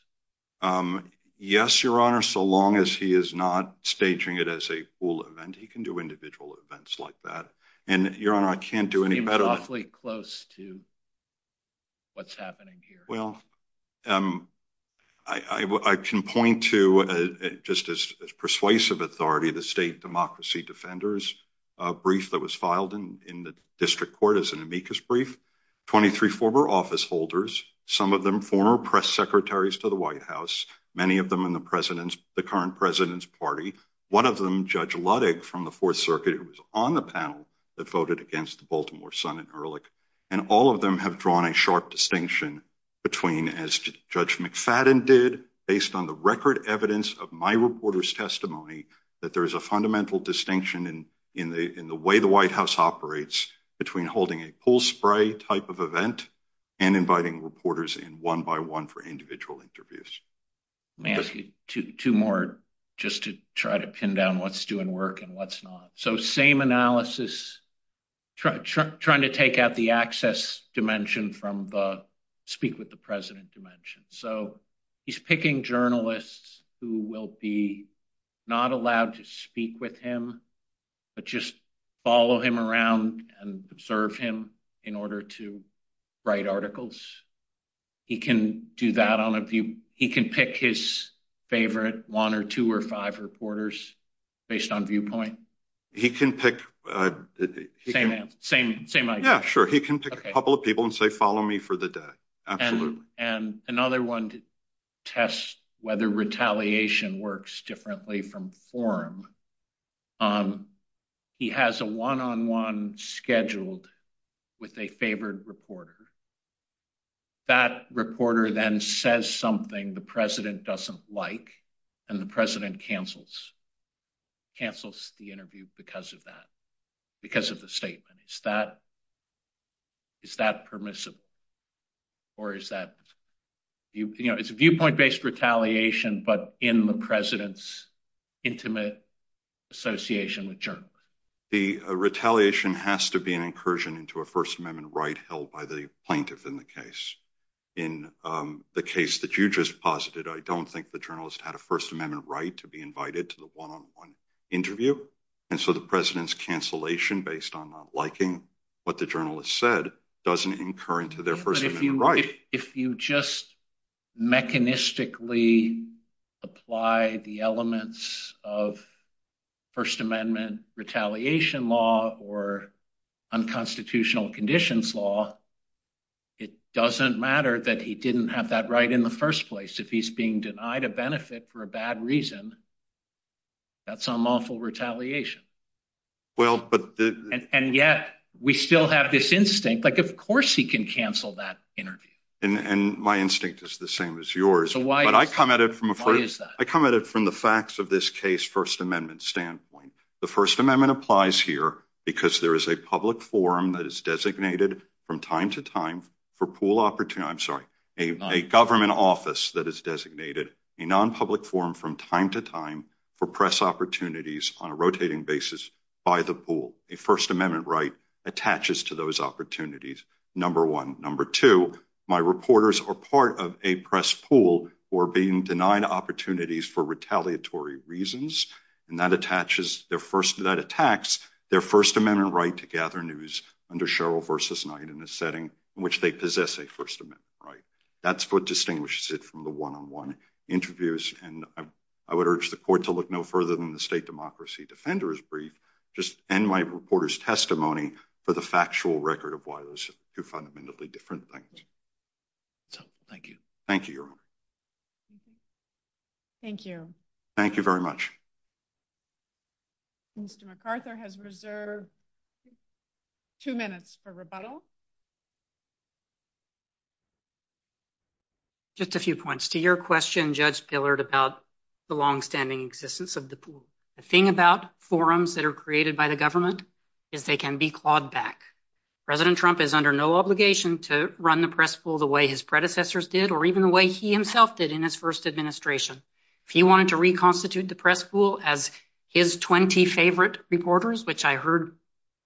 Yes, Your Honor, so long as he is not staging it as a pool event. He can do individual events like that, and Your Honor, I can't do any better- It's awfully close to what's happening here. Well, I can point to, just as persuasive authority, the State Democracy Defenders brief that was filed in the district court as an amicus brief. Twenty-three former office holders, some of them former press secretaries to the White House, many of them in the current president's party, one of them, Judge Ludwig from the Fourth Circuit, who was on the panel that voted against Baltimore Sun and Ehrlich, and all of them have drawn a sharp distinction between, as Judge McFadden did, based on the record evidence of my reporter's testimony, that there's a fundamental distinction in the way the White House operates between holding a pool spray type of event and inviting reporters in one by one for individual interviews. May I ask you two more, just to try to pin down what's doing work and what's not? Same analysis, trying to take out the access dimension from the speak with the president dimension. He's picking journalists who will be not allowed to speak with him, but just follow him around and observe him in order to write articles. He can do that on a view- He can pick- Same idea. Yeah, sure. He can pick a couple of people and say, follow me for the day. Absolutely. And another one tests whether retaliation works differently from forum. He has a one-on-one scheduled with a favored reporter. That reporter then says something the president doesn't like, and the president cancels the interview because of that, because of the statement. Is that permissible? Or is that- It's viewpoint-based retaliation, but in the president's intimate association with journalists. The retaliation has to be an incursion into a First Amendment right held by the plaintiff in the case. In the case that you just posited, I don't think the journalist had a First Amendment right to be invited to the one-on-one interview. And so the president's cancellation based on not liking what the journalist said doesn't incur into their First Amendment right. If you just mechanistically apply the elements of First Amendment retaliation law or unconstitutional conditions law, it doesn't matter that he didn't have that right in the first place. If he's being denied a benefit for a bad reason, that's unlawful retaliation. And yet, we still have this instinct, like of course he can cancel that interview. And my instinct is the same as yours. So why is that? I come at it from the facts of this case First Amendment standpoint. The First Amendment applies here because there is a public forum that is designated from time to time for pool opportunity, I'm sorry, a government office that is designated, a non-public forum from time to time for press opportunities on a rotating basis by the pool. A First Amendment right attaches to those opportunities, number one. Number two, my reporters are part of a press pool for being denied opportunities for retaliatory reasons, and that attaches, that attacks their First Amendment right to gather news under Cheryl versus night in a setting in which they possess a First Amendment right. That's what distinguishes it from the one-on-one interviews. And I would urge the court to look no further than the State Democracy Defender's brief, just end my reporter's testimony for the factual record of why those are fundamentally different things. Thank you. Thank you, Your Honor. Thank you. Thank you very much. Mr. McArthur has reserved two minutes for rebuttal. Just a few points to your question, Judge Pillard, about the longstanding existence of the pool. The thing about forums that are created by the government, if they can be clawed back, President Trump is under no obligation to run the press pool the way his predecessors did, or even the way he himself did in his first administration. If he wanted to reconstitute the press pool as his 20 favorite reporters, which I heard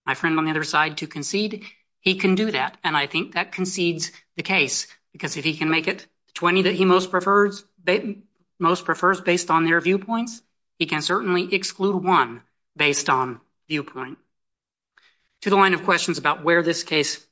my friend on the other side to concede, he can do that. And I think that concedes the case, because if he can make it 20 that he most prefers based on their viewpoints, he can certainly exclude one based on viewpoint. To the line of questions about where this case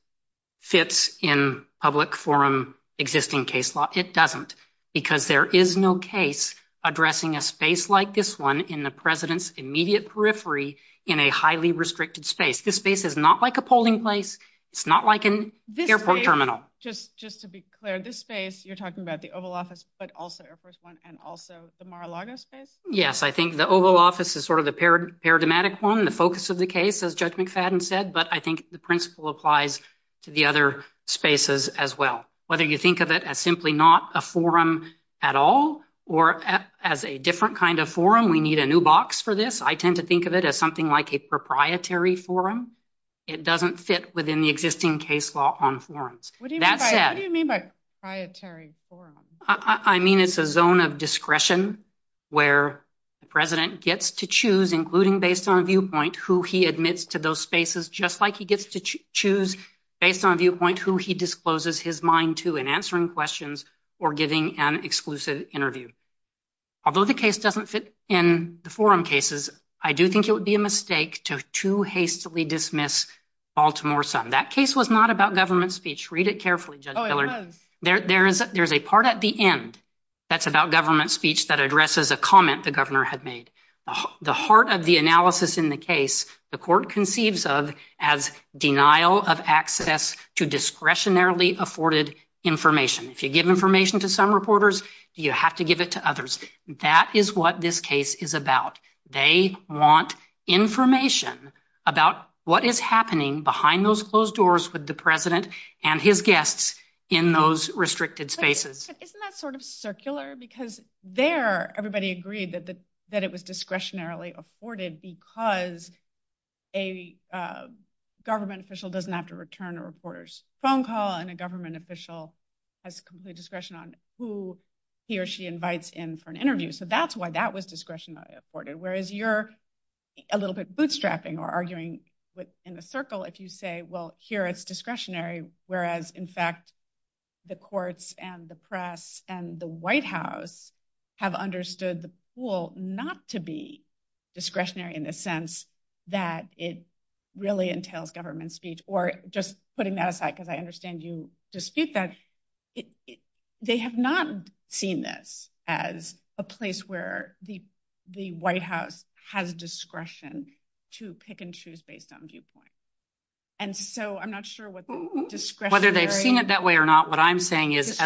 sits in public forum existing case law, it doesn't because there is no case addressing a space like this one in the president's immediate periphery in a highly restricted space. This space is not like a polling place. It's not like an airport terminal. Just to be clear, this space, you're talking about the Oval Office, but also Air Force One and also the Mar-a-Lago space? Yes, I think the Oval Office is sort of the paradigmatic one, the focus of the case, as Judge McFadden said, but I think the principle applies to the other spaces as well. Whether you think of it as simply not a forum at all or as a different kind of forum, we need a new box for this. I tend to think of it as something like a proprietary forum. It doesn't fit within the existing case law on forums. What do you mean by proprietary forum? I mean, it's a zone of discretion where the president gets to choose, including based on viewpoint, who he admits to those spaces, just like he gets to choose based on viewpoint, who he discloses his mind to in answering questions or giving an exclusive interview. Although the case doesn't fit in the forum cases, I do think it would be a mistake to too hastily dismiss Baltimore Sun. That case was not about government speech. Read it carefully, Judge Hillard. There's a part at the end that's about government speech that addresses a comment the governor had made. The heart of the analysis in the case, the court conceives of as denial of access to discretionarily afforded information. If you give information to some reporters, you have to give it to others. That is what this case is about. They want information about what is happening behind those closed doors with the president and his guests in those restricted spaces. Isn't that sort of circular? Because there everybody agreed that it was discretionarily afforded because a government official doesn't have to return a reporter's phone call and a government official has complete discretion on who he or she invites in for an interview. That's why that was discretionary afforded, whereas you're a little bit bootstrapping or arguing in a circle if you say, well, here it's discretionary, whereas in fact the courts and the press and the White House have understood the pool not to be discretionary in the sense that it really entails government speech. Or just putting that aside because I understand you dispute that, they have not seen this as a place where the White House has discretion to pick and choose based on viewpoint. And so I'm not sure what the discretionary... Whether they've seen it that way or not, what I'm saying is...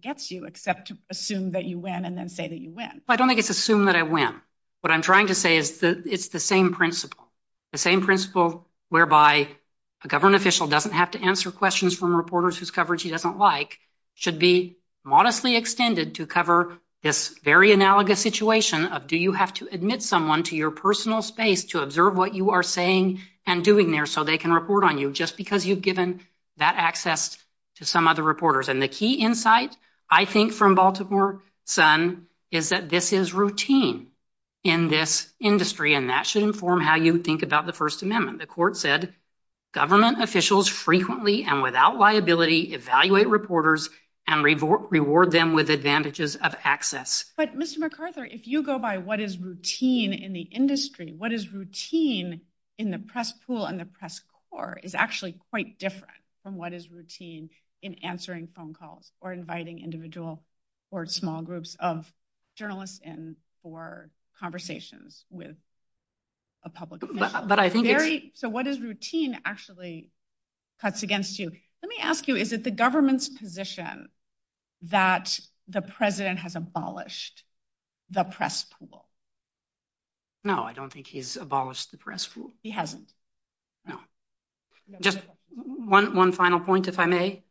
...gets you except to assume that you win and then say that you win. I don't think it's assume that I win. What I'm trying to say is it's the same principle. The same principle whereby a government official doesn't have to answer questions from reporters whose coverage he doesn't like should be modestly extended to cover this very analogous situation of do you have to admit someone to your personal space to observe what you are saying and doing there so they can report on you just because you've given that access to some other reporters. And the key insight I think from Baltimore Sun is that this is routine in this industry and that should inform how you think about the First Amendment. The court said government officials frequently and without liability evaluate reporters and reward them with advantages of access. But Mr. McArthur, if you go by what is routine in the industry, what is routine in the press pool and the press corps is actually quite different from what is routine in answering phone calls or inviting individual or small groups of journalists in for conversations with a public official. So what is routine actually cuts against you. Let me ask you, is it the government's position that the president has abolished the press pool? No, I don't think he's abolished the press pool. No, he hasn't. Just one final point if I may.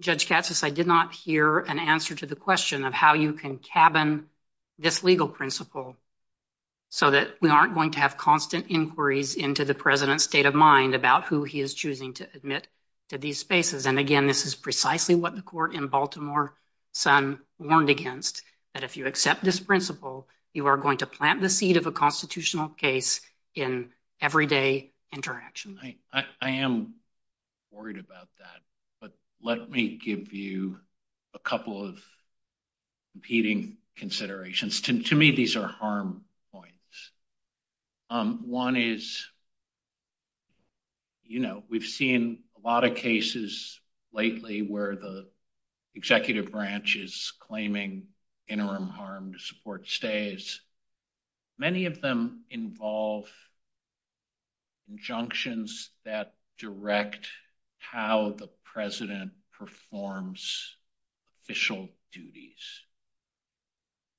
Judge Katsas, I did not hear an answer to the question of how you can cabin this legal principle so that we aren't going to have constant inquiries into the president's state of mind about who he is choosing to admit to these spaces. And again, this is precisely what the court in Baltimore Sun warned against, that if you accept this principle, you are going to plant the seed of a constitutional case in everyday interaction. I am worried about that. But let me give you a couple of competing considerations. To me, these are harm points. One is, you know, we've seen a lot of cases lately where the executive branch is claiming interim harm to support stays. Many of them involve injunctions that direct how the president performs official duties,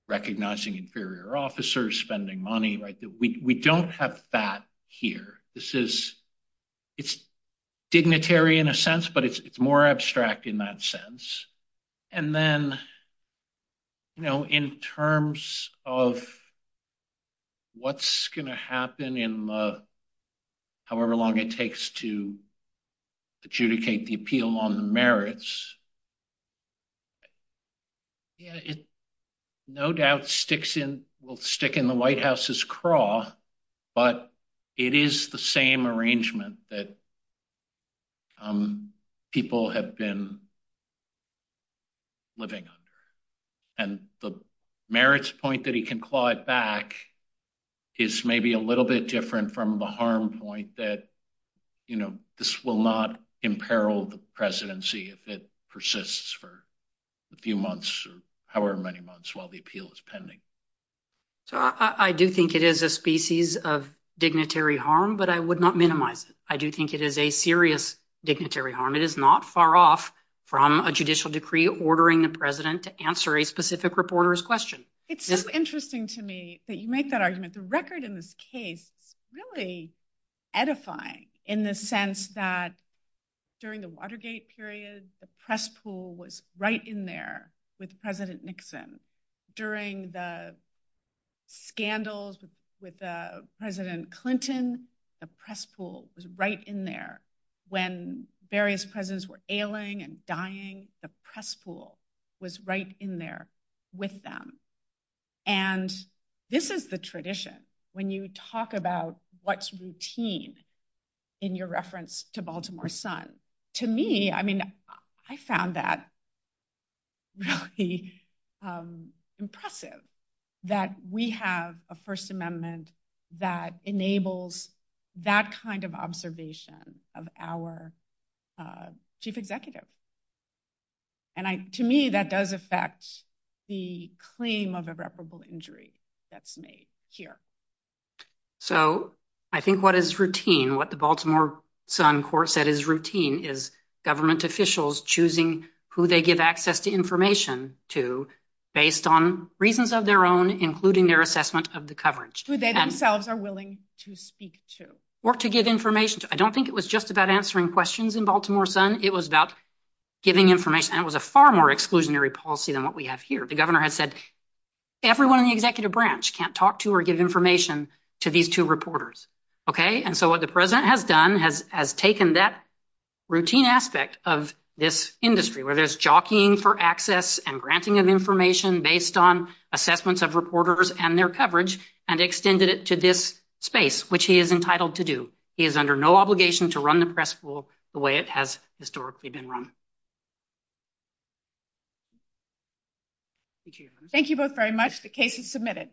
recognizing inferior officers, spending money. We don't have that here. It's dignitary in a sense, but it's more abstract in that sense. And then, you know, in terms of what's going to happen in however long it takes to adjudicate the appeal on the merits, it no doubt will stick in the White House's craw, but it is the same arrangement that people have been living under. And the merits point that he can claw it back is maybe a little bit different from the harm point that, you know, this will not imperil the presidency if it persists for a few months or however many months while the appeal is pending. So I do think it is a species of dignitary harm, but I would not minimize it. I do think it is a serious dignitary harm. It is not far off from a judicial decree ordering the president to answer a specific reporter's question. It's so interesting to me that you make that argument. The record in this case really edify in the sense that during the Watergate period, the press pool was right in there with President Nixon. During the scandals with President Clinton, the press pool was right in there. When various presidents were ailing and dying, the press pool was right in there with them. And this is the tradition when you talk about what's routine in your reference to Baltimore Sun. To me, I mean, I found that really impressive that we have a First Amendment that enables that kind of observation of our chief executive. And to me, that does affect the claim of irreparable injury that's made here. So I think what is routine, what the Baltimore Sun court said is routine is government officials choosing who they give access to information to based on reasons of their own, including their assessment of the coverage. Who they themselves are willing to speak to. Or to give information to. I don't think it was just about answering questions in Baltimore Sun. It was about giving information. And it was a far more exclusionary policy than what we have here. The governor had said, everyone in the executive branch can't talk to or give information to these two reporters. And so what the president has done, has taken that routine aspect of this industry, where there's jockeying for access and granting of information based on assessments of reporters and their coverage, and extended it to this space, which he is entitled to do. He is under no obligation to run the press pool the way it has historically been run. Thank you both very much. The case is submitted.